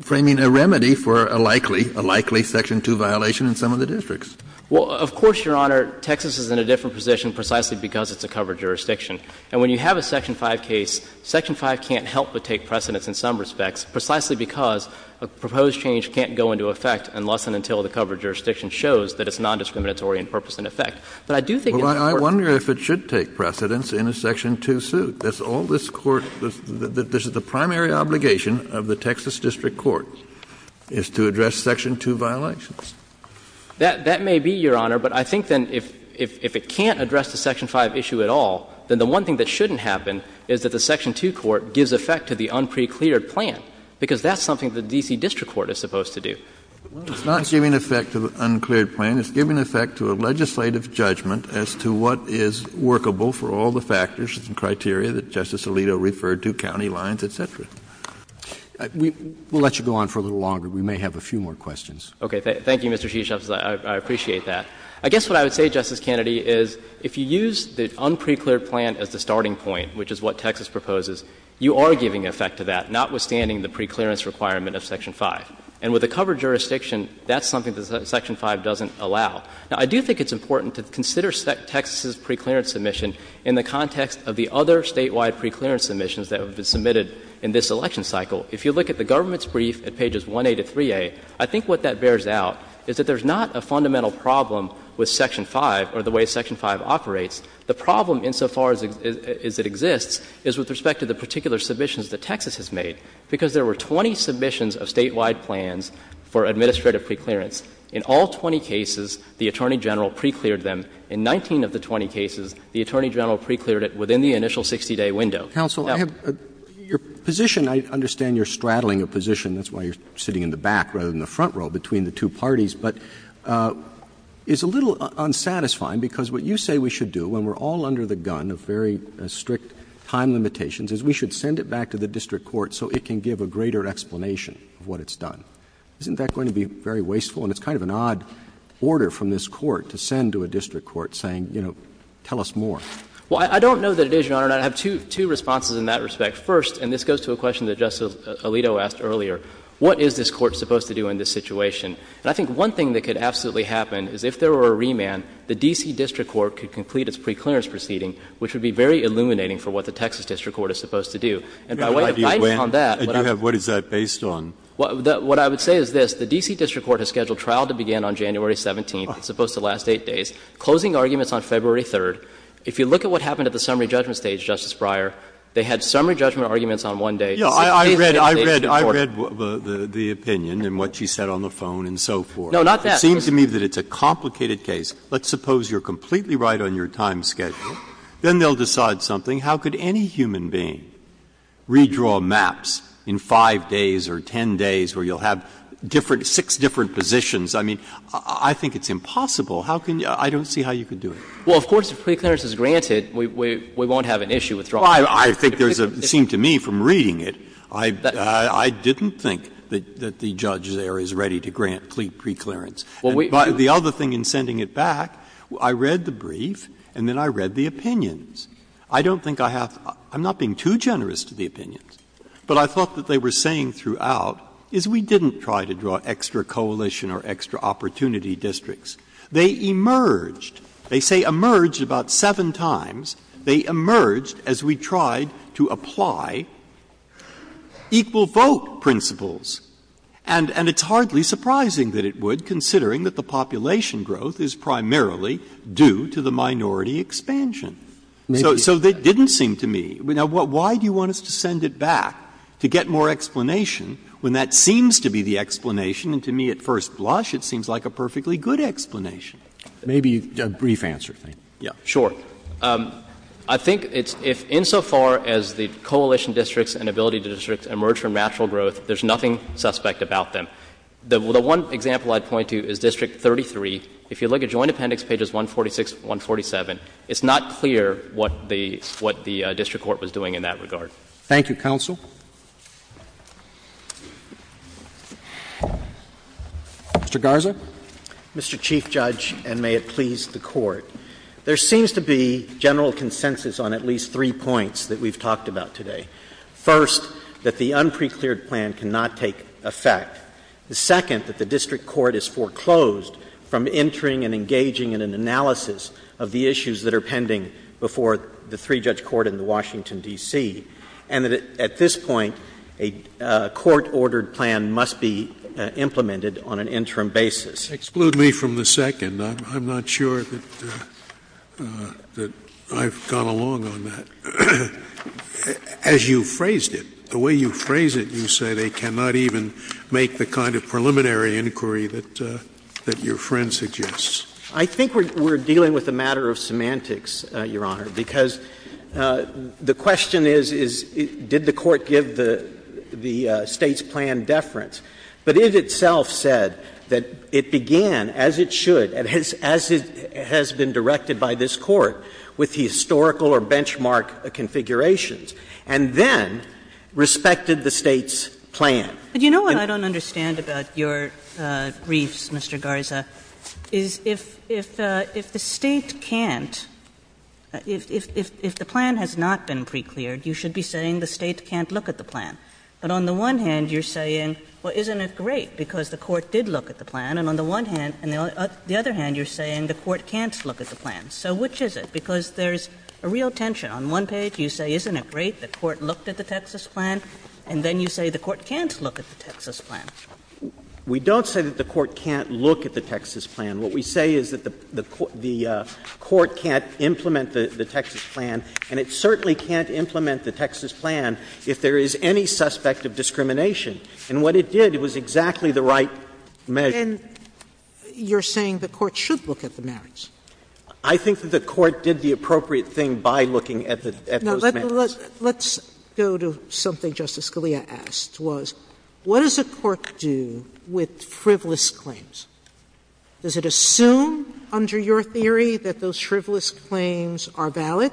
framing a remedy for a likely, a likely Section 2 violation in some of the districts. Well, of course, Your Honor, Texas is in a different position precisely because it's a covered jurisdiction. And when you have a Section 5 case, Section 5 can't help but take precedence in some respects precisely because a proposed change can't go into effect unless and until the covered jurisdiction shows that it's nondiscriminatory in purpose and effect. But I do think in the court's case — Well, I wonder if it should take precedence in a Section 2 suit. That's all this Court — this is the primary obligation of the Texas district court is to address Section 2 violations. That may be, Your Honor. But I think then if it can't address the Section 5 issue at all, then the one thing that shouldn't happen is that the Section 2 court gives effect to the unprecleared plan, because that's something the D.C. district court is supposed to do. Well, it's not giving effect to the uncleared plan. It's giving effect to a legislative judgment as to what is workable for all the factors and criteria that Justice Alito referred to, county lines, et cetera. We'll let you go on for a little longer. We may have a few more questions. Okay. Thank you, Mr. Chief Justice. I appreciate that. I guess what I would say, Justice Kennedy, is if you use the unprecleared plan as the starting point, which is what Texas proposes, you are giving effect to that, notwithstanding the preclearance requirement of Section 5. And with a covered jurisdiction, that's something that Section 5 doesn't allow. Now, I do think it's important to consider Texas's preclearance submission in the context of the other statewide preclearance submissions that have been submitted in this election cycle. If you look at the government's brief at pages 1A to 3A, I think what that bears out is that there's not a fundamental problem with Section 5 or the way Section 5 operates. The problem, insofar as it exists, is with respect to the particular submissions that Texas has made, because there were 20 submissions of statewide plans for administrative preclearance. In all 20 cases, the Attorney General precleared them. In 19 of the 20 cases, the Attorney General precleared it within the initial 60-day window. Counsel, I have your position. I understand you're straddling a position. That's why you're sitting in the back rather than the front row between the two parties. But it's a little unsatisfying, because what you say we should do when we're all back to the district court so it can give a greater explanation of what it's done. Isn't that going to be very wasteful? And it's kind of an odd order from this Court to send to a district court saying, you know, tell us more. Well, I don't know that it is, Your Honor, and I have two responses in that respect. First, and this goes to a question that Justice Alito asked earlier, what is this Court supposed to do in this situation? And I think one thing that could absolutely happen is if there were a remand, the D.C. district court could complete its preclearance proceeding, which would be very illuminating for what the Texas district court is supposed to do. And by way of guiding on that, what I would say is this. The D.C. district court has scheduled trial to begin on January 17th, it's supposed to last 8 days, closing arguments on February 3rd. If you look at what happened at the summary judgment stage, Justice Breyer, they had summary judgment arguments on one day. Breyer, I read the opinion and what she said on the phone and so forth. No, not that. It seems to me that it's a complicated case. Let's suppose you are completely right on your time schedule, then they will decide something. How could any human being redraw maps in 5 days or 10 days where you will have different – six different positions? I mean, I think it's impossible. How can you – I don't see how you could do it. Well, of course, if preclearance is granted, we won't have an issue with drawing maps. I think there is a – it seemed to me from reading it, I didn't think that the judge there is ready to grant preclearance. And the other thing in sending it back, I read the brief and then I read the opinions. I don't think I have – I'm not being too generous to the opinions, but I thought that they were saying throughout is we didn't try to draw extra coalition or extra opportunity districts. They emerged. They say emerged about seven times. They emerged as we tried to apply equal vote principles. And it's hardly surprising that it would, considering that the population growth is primarily due to the minority expansion. So it didn't seem to me – now, why do you want us to send it back to get more explanation when that seems to be the explanation and to me at first blush it seems like a perfectly good explanation? Maybe a brief answer. Sure. I think it's – if insofar as the coalition districts and ability districts emerge from natural growth, there's nothing suspect about them. The one example I'd point to is District 33. If you look at Joint Appendix pages 146 and 147, it's not clear what the – what the district court was doing in that regard. Thank you, counsel. Mr. Garza. Mr. Chief Judge, and may it please the Court. There seems to be general consensus on at least three points that we've talked about today. First, that the unprecleared plan cannot take effect. The second, that the district court is foreclosed from entering and engaging in an analysis of the issues that are pending before the three-judge court in Washington, D.C. And that at this point, a court-ordered plan must be implemented on an interim basis. Exclude me from the second. I'm not sure that I've gone along on that. As you phrased it, the way you phrased it, you say they cannot even make the kind of preliminary inquiry that your friend suggests. I think we're dealing with a matter of semantics, Your Honor, because the question is, did the Court give the State's plan deference? But it itself said that it began, as it should, as it has been directed by this Court, with the historical or benchmark configurations, and then respected the State's plan. And you know what I don't understand about your briefs, Mr. Garza, is if the State can't, if the plan has not been precleared, you should be saying the State can't look at the plan. But on the one hand, you're saying, well, isn't it great, because the Court did look at the plan, and on the one hand, and the other hand, you're saying the Court can't look at the plan. So which is it? Because there's a real tension. On one page, you say, isn't it great the Court looked at the Texas plan, and then you say the Court can't look at the Texas plan. We don't say that the Court can't look at the Texas plan. What we say is that the Court can't implement the Texas plan, and it certainly can't implement the Texas plan if there is any suspect of discrimination. And what it did, it was exactly the right measure. And you're saying the Court should look at the merits? I think that the Court did the appropriate thing by looking at the merits. Sotomayor Now, let's go to something Justice Scalia asked, was what does a court do with frivolous claims? Does it assume under your theory that those frivolous claims are valid?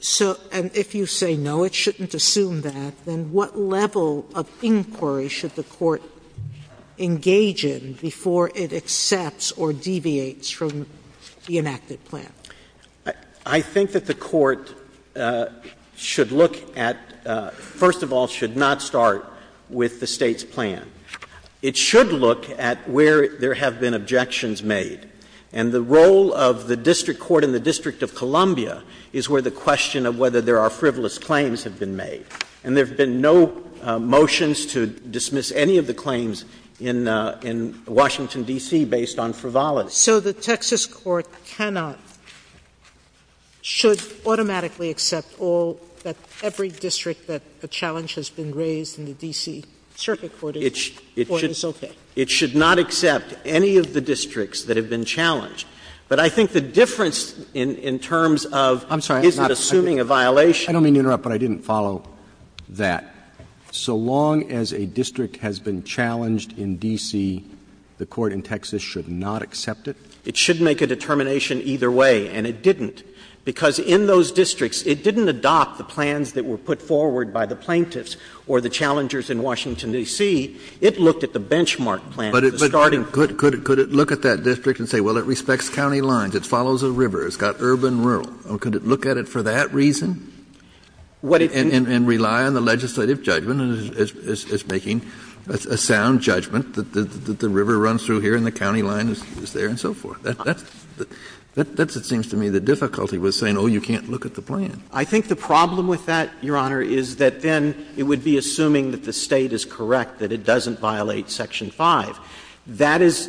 So and if you say no, it shouldn't assume that, then what level of inquiry should the Court engage in before it accepts or deviates from the enacted plan? I think that the Court should look at, first of all, should not start with the State's plan. It should look at where there have been objections made. And the role of the district court in the District of Columbia is where the question of whether there are frivolous claims have been made. And there have been no motions to dismiss any of the claims in Washington, D.C. based on frivolity. Sotomayor So the Texas court cannot, should automatically accept all, every district that a challenge has been raised in the D.C. circuit court or is okay? It should not accept any of the districts that have been challenged. But I think the difference in terms of is it assuming a violation? Roberts I don't mean to interrupt, but I didn't follow that. So long as a district has been challenged in D.C., the court in Texas should not accept it? It should make a determination either way, and it didn't, because in those districts it didn't adopt the plans that were put forward by the plaintiffs or the challengers in Washington, D.C. It looked at the benchmark plan, the starting point. Kennedy But could it look at that district and say, well, it respects county lines, it follows a river, it's got urban-rural? Or could it look at it for that reason? And rely on the legislative judgment as making a sound judgment that the river runs through here and the county line is there and so forth? That's, it seems to me, the difficulty with saying, oh, you can't look at the plan. Roberts I think the problem with that, Your Honor, is that then it would be assuming that the State is correct, that it doesn't violate section 5. That is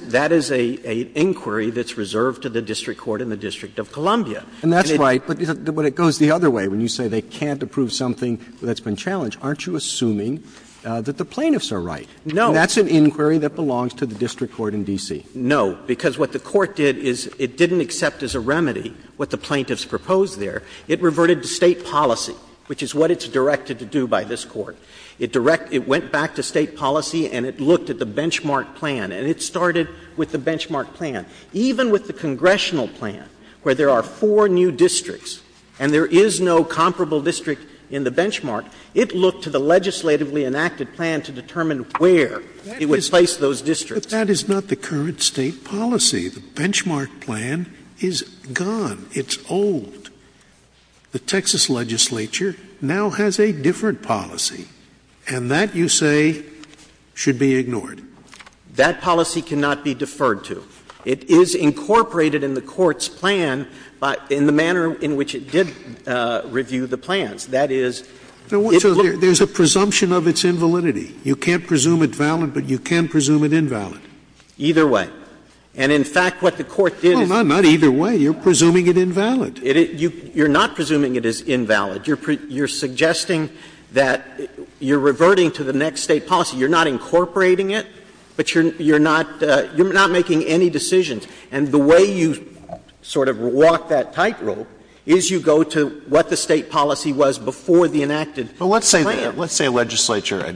a inquiry that's reserved to the district court in the District of Columbia. Roberts And that's right, but it goes the other way. When you say they can't approve something that's been challenged, aren't you assuming that the plaintiffs are right? And that's an inquiry that belongs to the district court in D.C.? Roberts No, because what the Court did is it didn't accept as a remedy what the plaintiffs proposed there. It reverted to State policy, which is what it's directed to do by this Court. It went back to State policy and it looked at the benchmark plan, and it started with the benchmark plan. Even with the congressional plan, where there are four new districts and there is no comparable district in the benchmark, it looked to the legislatively enacted plan to determine where it would place those districts. Scalia But that is not the current State policy. The benchmark plan is gone. It's old. The Texas legislature now has a different policy, and that, you say, should be ignored? Roberts That policy cannot be deferred to. It is incorporated in the Court's plan in the manner in which it did review the plans. That is, it looked at the benchmark plan to determine where it would place those districts. Scalia So there's a presumption of its invalidity. You can't presume it valid, but you can presume it invalid. Roberts Either way. And in fact, what the Court did is it did. Scalia No, not either way. You're presuming it invalid. Roberts You're not presuming it is invalid. You're suggesting that you're reverting to the next State policy. You're not incorporating it, but you're not making any decisions. And the way you sort of walk that tightrope is you go to what the State policy was before the enacted plan. Alito But let's say a legislature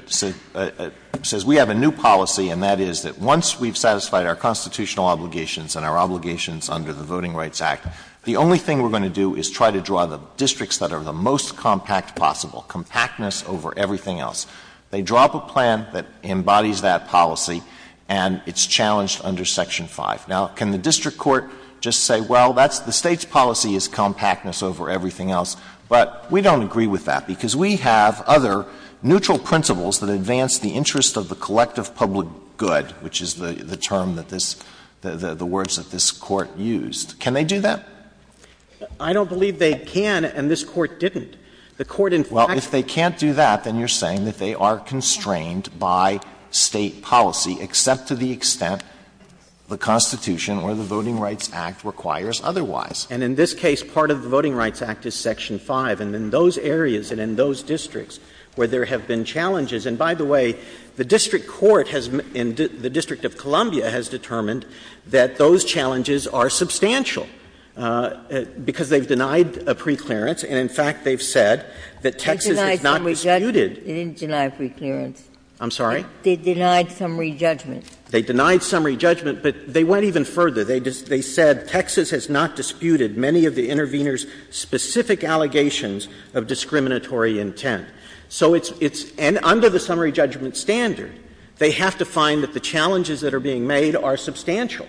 says we have a new policy, and that is that once we've satisfied our constitutional obligations and our obligations under the Voting Rights Act, the only thing we're going to do is try to draw the districts that are the most compact possible, compactness over everything else. They drop a plan that embodies that policy, and it's challenged under Section 5. Now, can the district court just say, well, that's the State's policy is compactness over everything else, but we don't agree with that because we have other neutral principles that advance the interest of the collective public good, which is the term that this — the words that this Court used. Can they do that? Roberts I don't believe they can, and this Court didn't. The Court, in fact, said that. They are constrained by State policy, except to the extent the Constitution or the Voting Rights Act requires otherwise. And in this case, part of the Voting Rights Act is Section 5. And in those areas and in those districts where there have been challenges — and by the way, the district court has — the District of Columbia has determined that those challenges are substantial, because they've denied a preclearance, and in fact, they've said that Texas has not disputed. Ginsburg They didn't deny a preclearance. Roberts I'm sorry? Ginsburg They denied summary judgment. Roberts They denied summary judgment, but they went even further. They said Texas has not disputed many of the intervener's specific allegations of discriminatory intent. So it's — and under the summary judgment standard, they have to find that the challenges that are being made are substantial.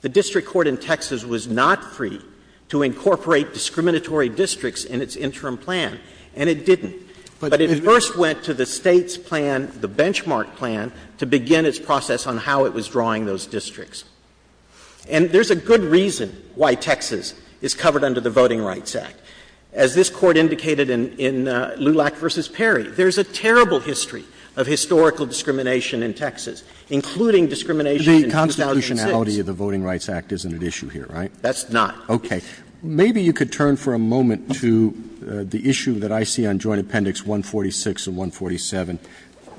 The district court in Texas was not free to incorporate discriminatory districts in its interim plan, and it didn't. But it first went to the State's plan, the benchmark plan, to begin its process on how it was drawing those districts. And there's a good reason why Texas is covered under the Voting Rights Act. As this Court indicated in Lulac v. Perry, there's a terrible history of historical discrimination in Texas, including discrimination in 2006. Roberts The constitutionality of the Voting Rights Act isn't at issue here, right? Ginsburg That's not. Roberts Okay. Maybe you could turn for a moment to the issue that I see on Joint Appendix 146 and 147.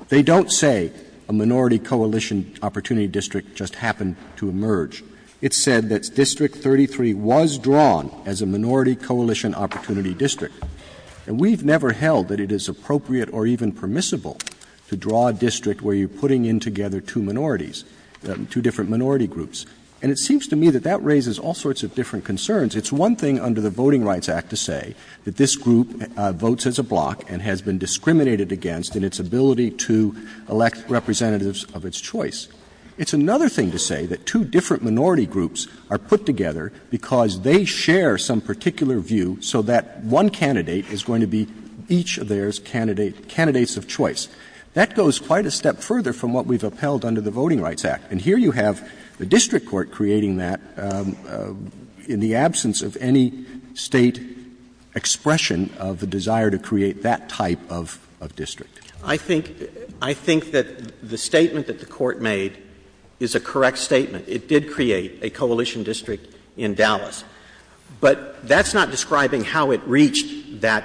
They don't say a minority coalition opportunity district just happened to emerge. It said that District 33 was drawn as a minority coalition opportunity district. And we've never held that it is appropriate or even permissible to draw a district where you're putting in together two minorities, two different minority groups. And it seems to me that that raises all sorts of different concerns. It's one thing under the Voting Rights Act to say that this group votes as a block and has been discriminated against in its ability to elect representatives of its choice. It's another thing to say that two different minority groups are put together because they share some particular view so that one candidate is going to be each of theirs candidates of choice. That goes quite a step further from what we've upheld under the Voting Rights Act. And here you have the district court creating that in the absence of any State expression of the desire to create that type of district. I think that the statement that the court made is a correct statement. It did create a coalition district in Dallas. But that's not describing how it reached that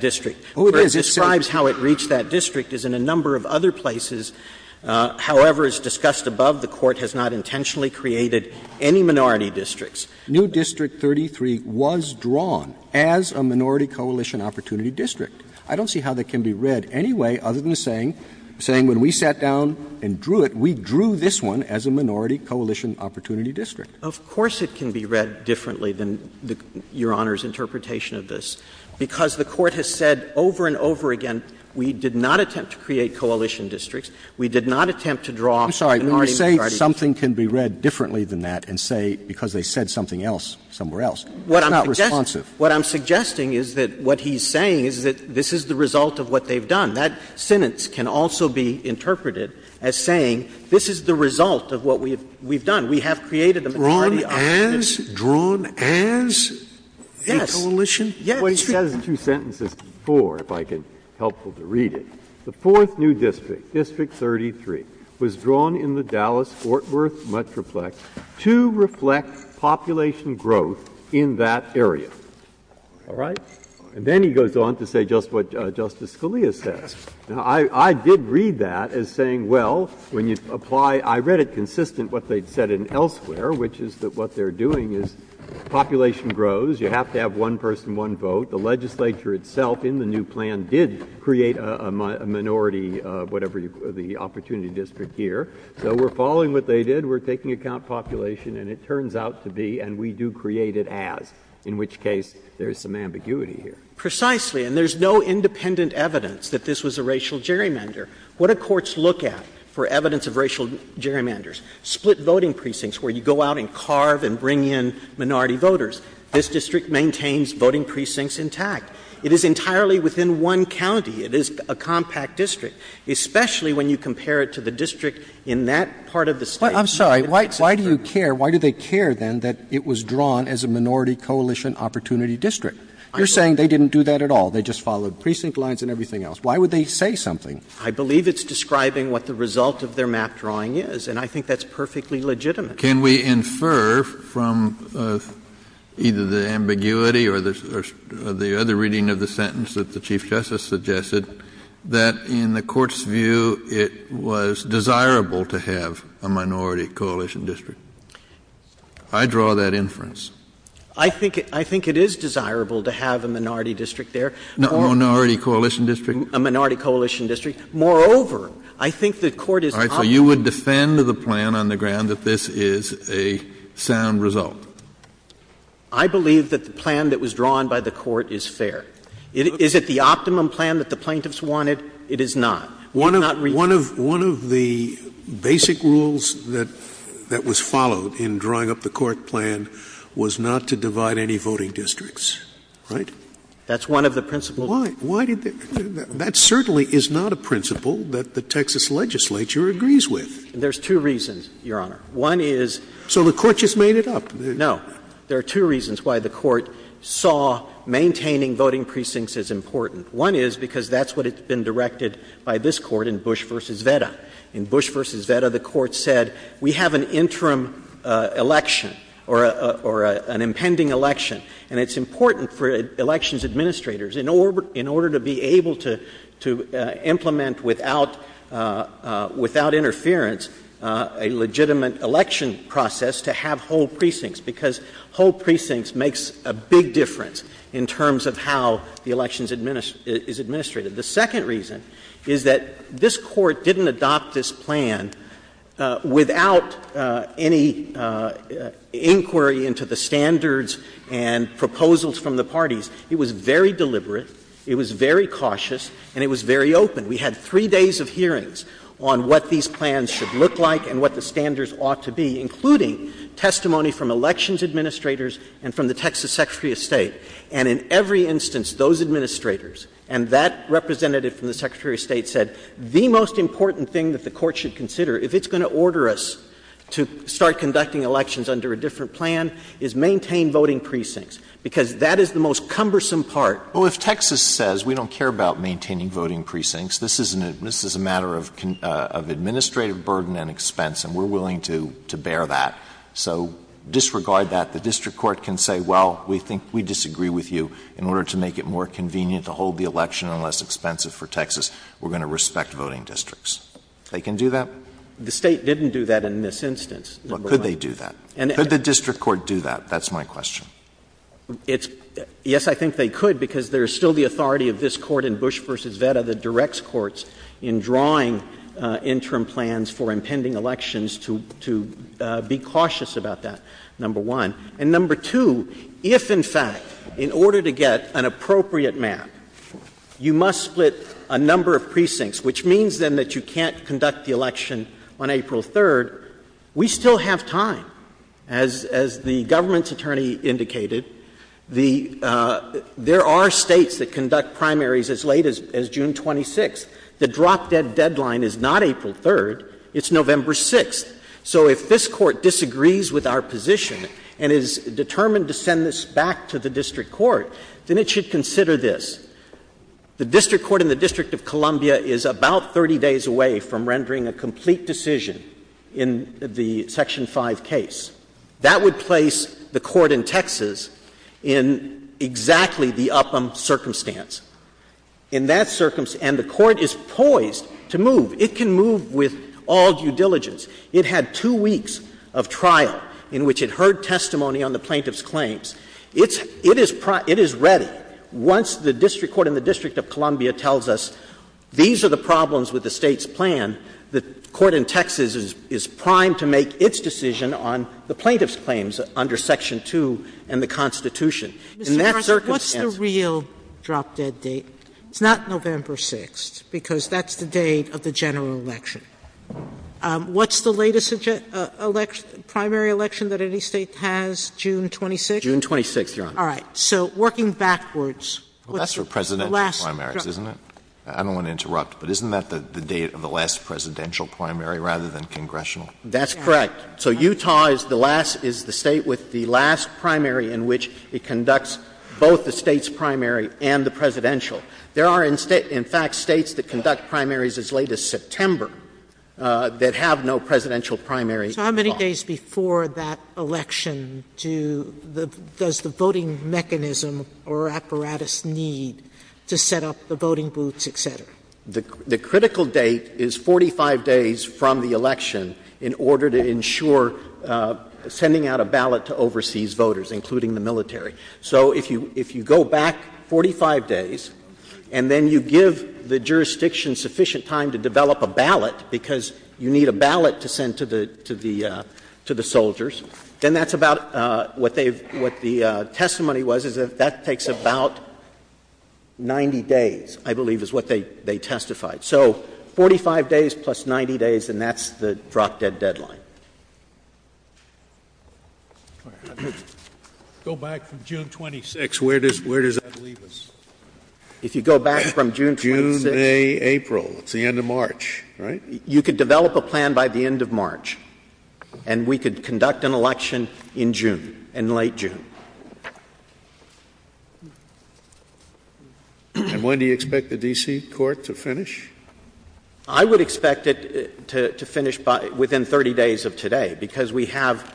district. It describes how it reached that district as in a number of other places, however as discussed above, the court has not intentionally created any minority districts. New District 33 was drawn as a minority coalition opportunity district. I don't see how that can be read any way other than saying when we sat down and drew it, we drew this one as a minority coalition opportunity district. Of course it can be read differently than Your Honor's interpretation of this. Because the court has said over and over again, we did not attempt to create coalition districts. We did not attempt to draw a minority minority district. Scalia, I'm sorry. When you say something can be read differently than that and say because they said something else somewhere else, it's not responsive. What I'm suggesting is that what he's saying is that this is the result of what they've done. That sentence can also be interpreted as saying this is the result of what we've done. We have created a minority opportunity district. Drawn as? Drawn as a coalition? Yes. Yes. Breyer, it says in two sentences before, if I can be helpful to read it, the fourth new district, District 33, was drawn in the Dallas-Fort Worth Metroplex to reflect population growth in that area. All right? And then he goes on to say just what Justice Scalia says. Now, I did read that as saying, well, when you apply — I read it consistent what they said in Elsewhere, which is that what they're doing is population grows. You have to have one person, one vote. The legislature itself in the new plan did create a minority, whatever the opportunity district here. So we're following what they did. We're taking account population, and it turns out to be, and we do create it as, in which case there is some ambiguity here. Precisely. And there's no independent evidence that this was a racial gerrymander. What do courts look at for evidence of racial gerrymanders? Split voting precincts where you go out and carve and bring in minority voters. This district maintains voting precincts intact. It is entirely within one county. It is a compact district, especially when you compare it to the district in that part of the State. I'm sorry. Why do you care? Why do they care, then, that it was drawn as a minority coalition opportunity district? You're saying they didn't do that at all. They just followed precinct lines and everything else. Why would they say something? I believe it's describing what the result of their map drawing is, and I think that's perfectly legitimate. Kennedy, can we infer from either the ambiguity or the other reading of the sentence that the Chief Justice suggested, that in the Court's view it was desirable to have a minority coalition district? I draw that inference. I think it is desirable to have a minority district there. Minority coalition district? A minority coalition district. Moreover, I think the Court is talking about a minority coalition district. I'm not saying that this is a sound result. I believe that the plan that was drawn by the Court is fair. Is it the optimum plan that the plaintiffs wanted? It is not. One of the basic rules that was followed in drawing up the court plan was not to divide any voting districts, right? That's one of the principles. Why did they? That certainly is not a principle that the Texas legislature agrees with. There's two reasons, Your Honor. One is. So the Court just made it up? No. There are two reasons why the Court saw maintaining voting precincts as important. One is because that's what has been directed by this Court in Bush v. Veda. In Bush v. Veda, the Court said we have an interim election or an impending election, and it's important for elections administrators, in order to be able to implement without interference a legitimate election process, to have whole precincts. Because whole precincts makes a big difference in terms of how the election is administrated. The second reason is that this Court didn't adopt this plan without any inquiry into the standards and proposals from the parties. It was very deliberate, it was very cautious, and it was very open. We had three days of hearings on what these plans should look like and what the standards ought to be, including testimony from elections administrators and from the Texas Secretary of State. And in every instance, those administrators and that representative from the Secretary of State said the most important thing that the Court should consider, if it's going to order us to start conducting elections under a different plan, is maintain voting precincts, because that is the most cumbersome part. Alito, if Texas says we don't care about maintaining voting precincts, this is a matter of administrative burden and expense, and we're willing to bear that, so disregard that, the district court can say, well, we think we disagree with you, in order to make it more convenient to hold the election and less expensive for Texas, we're going to respect voting districts. They can do that? The State didn't do that in this instance. Could they do that? Could the district court do that? That's my question. It's — yes, I think they could, because there is still the authority of this Court in Bush v. Veta that directs courts in drawing interim plans for impending elections to be cautious about that, number one. And number two, if, in fact, in order to get an appropriate map, you must split a number of precincts, which means, then, that you can't conduct the election on April 3rd, we still have time. As the government's attorney indicated, the — there are States that conduct primaries as late as June 26th. The drop-dead deadline is not April 3rd, it's November 6th. So if this Court disagrees with our position and is determined to send this back to the district court, then it should consider this. The district court in the District of Columbia is about 30 days away from rendering a complete decision in the Section 5 case. That would place the Court in Texas in exactly the upham circumstance. In that circumstance — and the Court is poised to move. It can move with all due diligence. It had two weeks of trial in which it heard testimony on the plaintiff's claims. It's — it is — it is ready once the district court in the District of Columbia tells us these are the problems with the State's plan, the court in Texas is primed to make its decision on the plaintiff's claims under Section 2 and the Constitution. In that circumstance — Sotomayor, what's the real drop-dead date? It's not November 6th, because that's the date of the general election. What's the latest election — primary election that any State has, June 26th? June 26th, Your Honor. All right. So working backwards, what's the last — The last presidential primaries, isn't it? I don't want to interrupt, but isn't that the date of the last presidential primary rather than congressional? That's correct. So Utah is the last — is the State with the last primary in which it conducts both the State's primary and the presidential. There are, in fact, States that conduct primaries as late as September that have no presidential primary at all. Sotomayor, so how many days before that election do the — does the voting mechanism or apparatus need to set up the voting booths, et cetera? The critical date is 45 days from the election in order to ensure sending out a ballot to overseas voters, including the military. So if you go back 45 days, and then you give the jurisdiction sufficient time to develop a ballot, because you need a ballot to send to the — to the soldiers, then that's about what they've — what the testimony was, is that that takes about 90 days, I believe, is what they testified. So 45 days plus 90 days, and that's the drop-dead deadline. Go back from June 26th. Where does that leave us? If you go back from June 26th — Sotomayor, you could develop a plan by the end of March, and we could conduct an election in June, in late June. And when do you expect the D.C. court to finish? I would expect it to finish by — within 30 days of today, because we have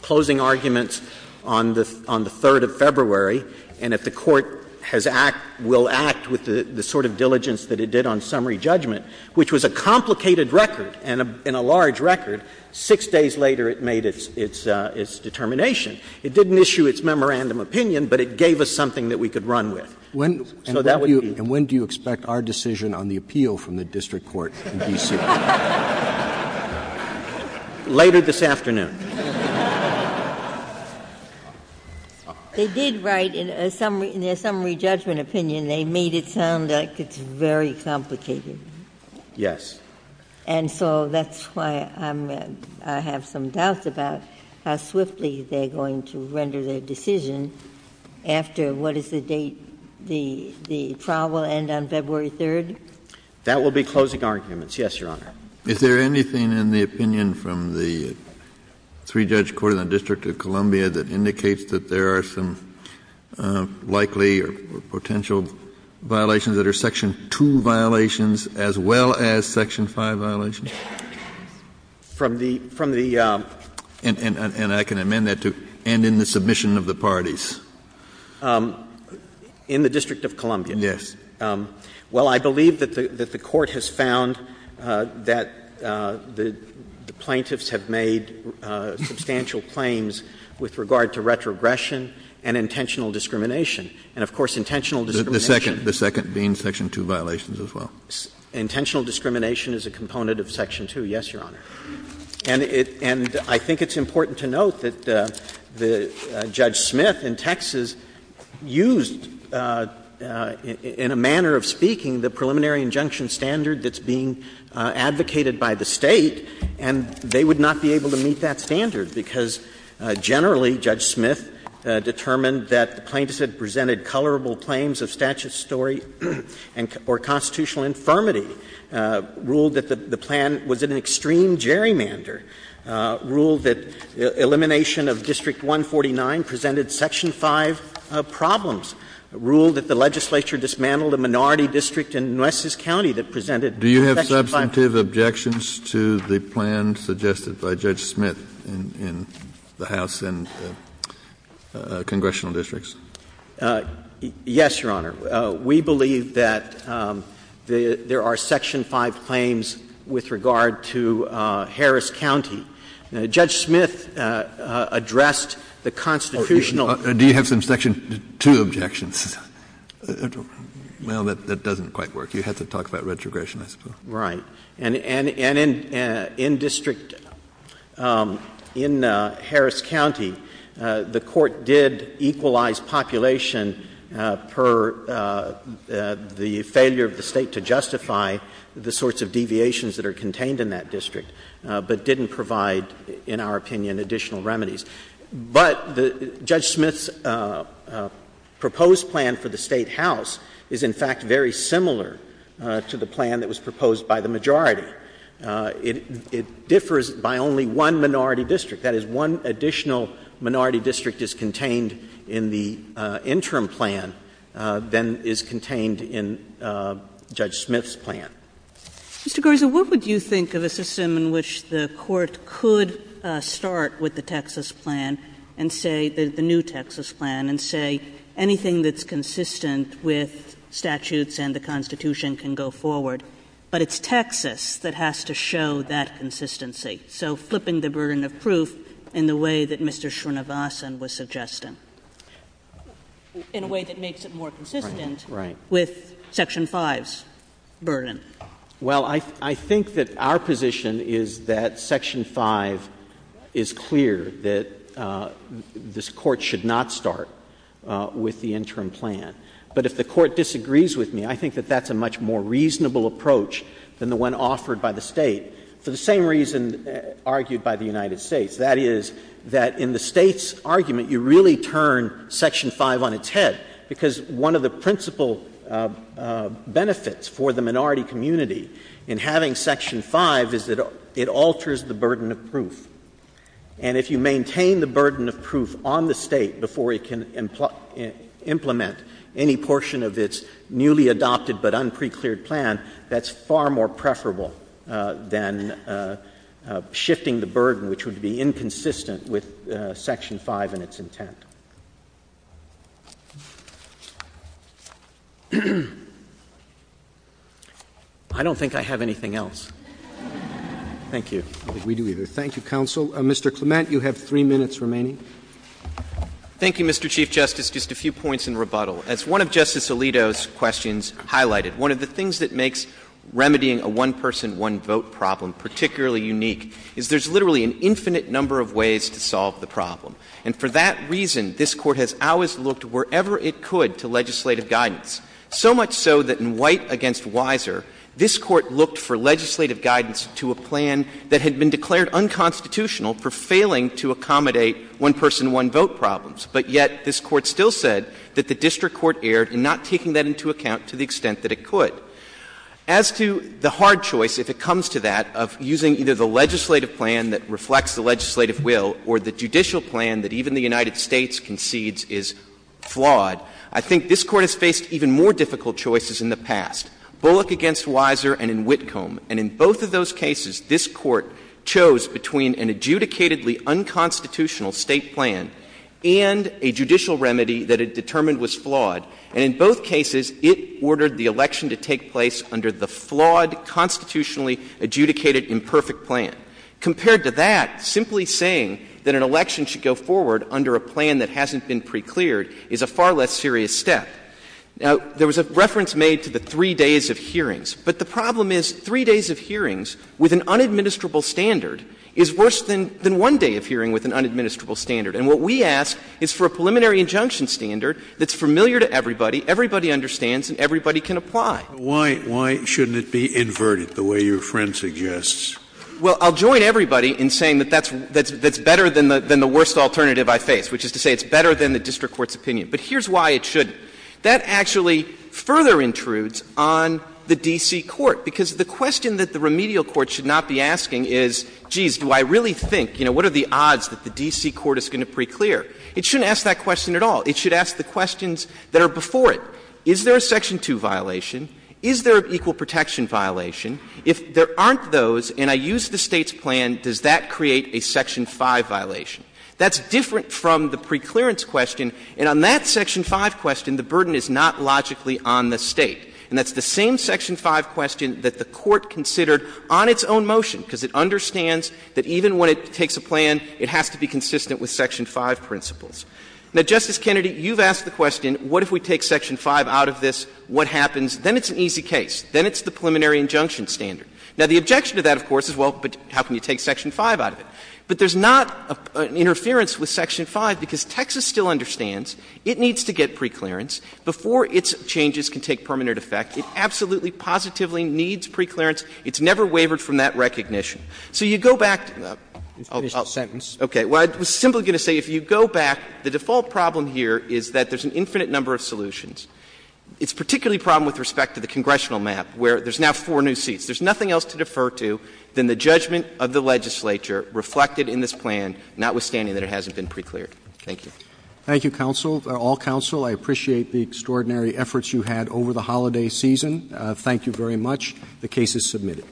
closing arguments on the — on the 3rd of February, and if the court has act — will act with the sort of diligence that it did on summary judgment, which was a complicated record and a — and a large record, 6 days later it made its — its determination. It didn't issue its memorandum opinion, but it gave us something that we could run with. So that would be— And when do you expect our decision on the appeal from the district court in D.C.? Later this afternoon. They did write in a summary — in their summary judgment opinion, they made it sound like it's very complicated. Yes. And so that's why I'm — I have some doubts about how swiftly they're going to render their decision after what is the date the — the trial will end on February 3rd? That will be closing arguments, yes, Your Honor. Is there anything in the opinion from the three-judge court in the District of Columbia that indicates that there are some likely or potential violations that are Section 2 violations as well as Section 5 violations? From the — from the— And I can amend that to end in the submission of the parties. In the District of Columbia? Yes. Well, I believe that the — that the court has found that the plaintiffs have made substantial claims with regard to retrogression and intentional discrimination. And, of course, intentional discrimination— The second — the second being Section 2 violations as well. Intentional discrimination is a component of Section 2, yes, Your Honor. And it — and I think it's important to note that Judge Smith in Texas used, in a manner of speaking, the preliminary injunction standard that's being advocated by the State, and they would not be able to meet that standard, because generally, Judge Smith determined that the plaintiffs had presented colorable claims of statutory or constitutional infirmity, ruled that the plan was an extreme gerrymander, ruled that elimination of District 149 presented Section 5 problems, ruled that the legislature dismantled a minority district in Nueces County that presented Section 5 problems. Do you have substantive objections to the plan suggested by Judge Smith in the House and congressional districts? Yes, Your Honor. We believe that there are Section 5 claims with regard to Harris County. Judge Smith addressed the constitutional— Do you have some Section 2 objections? Well, that doesn't quite work. You have to talk about retrogression, I suppose. Right. And in District — in Harris County, the Court did equalize population per the failure of the State to justify the sorts of deviations that are contained in that district, but didn't provide, in our opinion, additional remedies. But Judge Smith's proposed plan for the Statehouse is, in fact, very similar to the majority. It differs by only one minority district. That is, one additional minority district is contained in the interim plan than is contained in Judge Smith's plan. Mr. Garza, what would you think of a system in which the Court could start with the Texas plan and say — the new Texas plan and say anything that's consistent with statutes and the Constitution can go forward? But it's Texas that has to show that consistency. So flipping the burden of proof in the way that Mr. Srinivasan was suggesting. In a way that makes it more consistent with Section 5's burden. Well, I think that our position is that Section 5 is clear, that this Court should not start with the interim plan. But if the Court disagrees with me, I think that that's a much more reasonable approach than the one offered by the State, for the same reason argued by the United States. That is, that in the State's argument, you really turn Section 5 on its head, because one of the principal benefits for the minority community in having Section 5 is that it alters the burden of proof. And if you maintain the burden of proof on the State before it can implement any portion of its newly adopted but unprecleared plan, that's far more preferable than shifting the burden, which would be inconsistent with Section 5 and its intent. I don't think I have anything else. Thank you. I don't think we do either. Thank you, counsel. Mr. Clement, you have three minutes remaining. Thank you, Mr. Chief Justice. Just a few points in rebuttal. As one of Justice Alito's questions highlighted, one of the things that makes remedying a one-person, one-vote problem particularly unique is there's literally an infinite number of ways to solve the problem. And for that reason, this Court has always looked wherever it could to legislative guidance, so much so that in White v. Weiser, this Court looked for legislative guidance to a plan that had been declared unconstitutional for failing to accommodate one-person, one-vote problems. But yet this Court still said that the district court erred in not taking that into account to the extent that it could. As to the hard choice, if it comes to that, of using either the legislative plan that reflects the legislative will or the judicial plan that even the United States concedes is flawed, I think this Court has faced even more difficult choices in the past. Bullock v. Weiser and in Whitcomb, and in both of those cases, this Court chose between an adjudicatedly unconstitutional State plan and a judicial remedy that it determined was flawed. And in both cases, it ordered the election to take place under the flawed, constitutionally adjudicated imperfect plan. Compared to that, simply saying that an election should go forward under a plan that hasn't been precleared is a far less serious step. Now, there was a reference made to the three days of hearings. But the problem is three days of hearings with an unadministrable standard is worse than one day of hearing with an unadministrable standard. And what we ask is for a preliminary injunction standard that's familiar to everybody, everybody understands, and everybody can apply. Scalia. Why shouldn't it be inverted, the way your friend suggests? Bullock. Well, I'll join everybody in saying that that's better than the worst alternative I face, which is to say it's better than the district court's opinion. But here's why it shouldn't. That actually further intrudes on the D.C. court. Because the question that the remedial court should not be asking is, geez, do I really think, you know, what are the odds that the D.C. court is going to preclear? It shouldn't ask that question at all. It should ask the questions that are before it. Is there a section 2 violation? Is there an equal protection violation? If there aren't those and I use the State's plan, does that create a section 5 violation? That's different from the preclearance question. And on that section 5 question, the burden is not logically on the State. And that's the same section 5 question that the Court considered on its own motion, because it understands that even when it takes a plan, it has to be consistent with section 5 principles. Now, Justice Kennedy, you've asked the question, what if we take section 5 out of this? What happens? Then it's an easy case. Then it's the preliminary injunction standard. Now, the objection to that, of course, is, well, but how can you take section 5 out of it? But there's not an interference with section 5 because Texas still understands it needs to get preclearance before its changes can take permanent effect. It absolutely, positively needs preclearance. It's never wavered from that recognition. So you go back to the other sentence. Okay. Well, I was simply going to say, if you go back, the default problem here is that there's an infinite number of solutions. It's particularly a problem with respect to the congressional map, where there's now four new seats. There's nothing else to defer to than the judgment of the legislature reflected in this plan, notwithstanding that it hasn't been precleared. Thank you. Roberts. Thank you, counsel, all counsel. I appreciate the extraordinary efforts you had over the holiday season. Thank you very much. The case is submitted.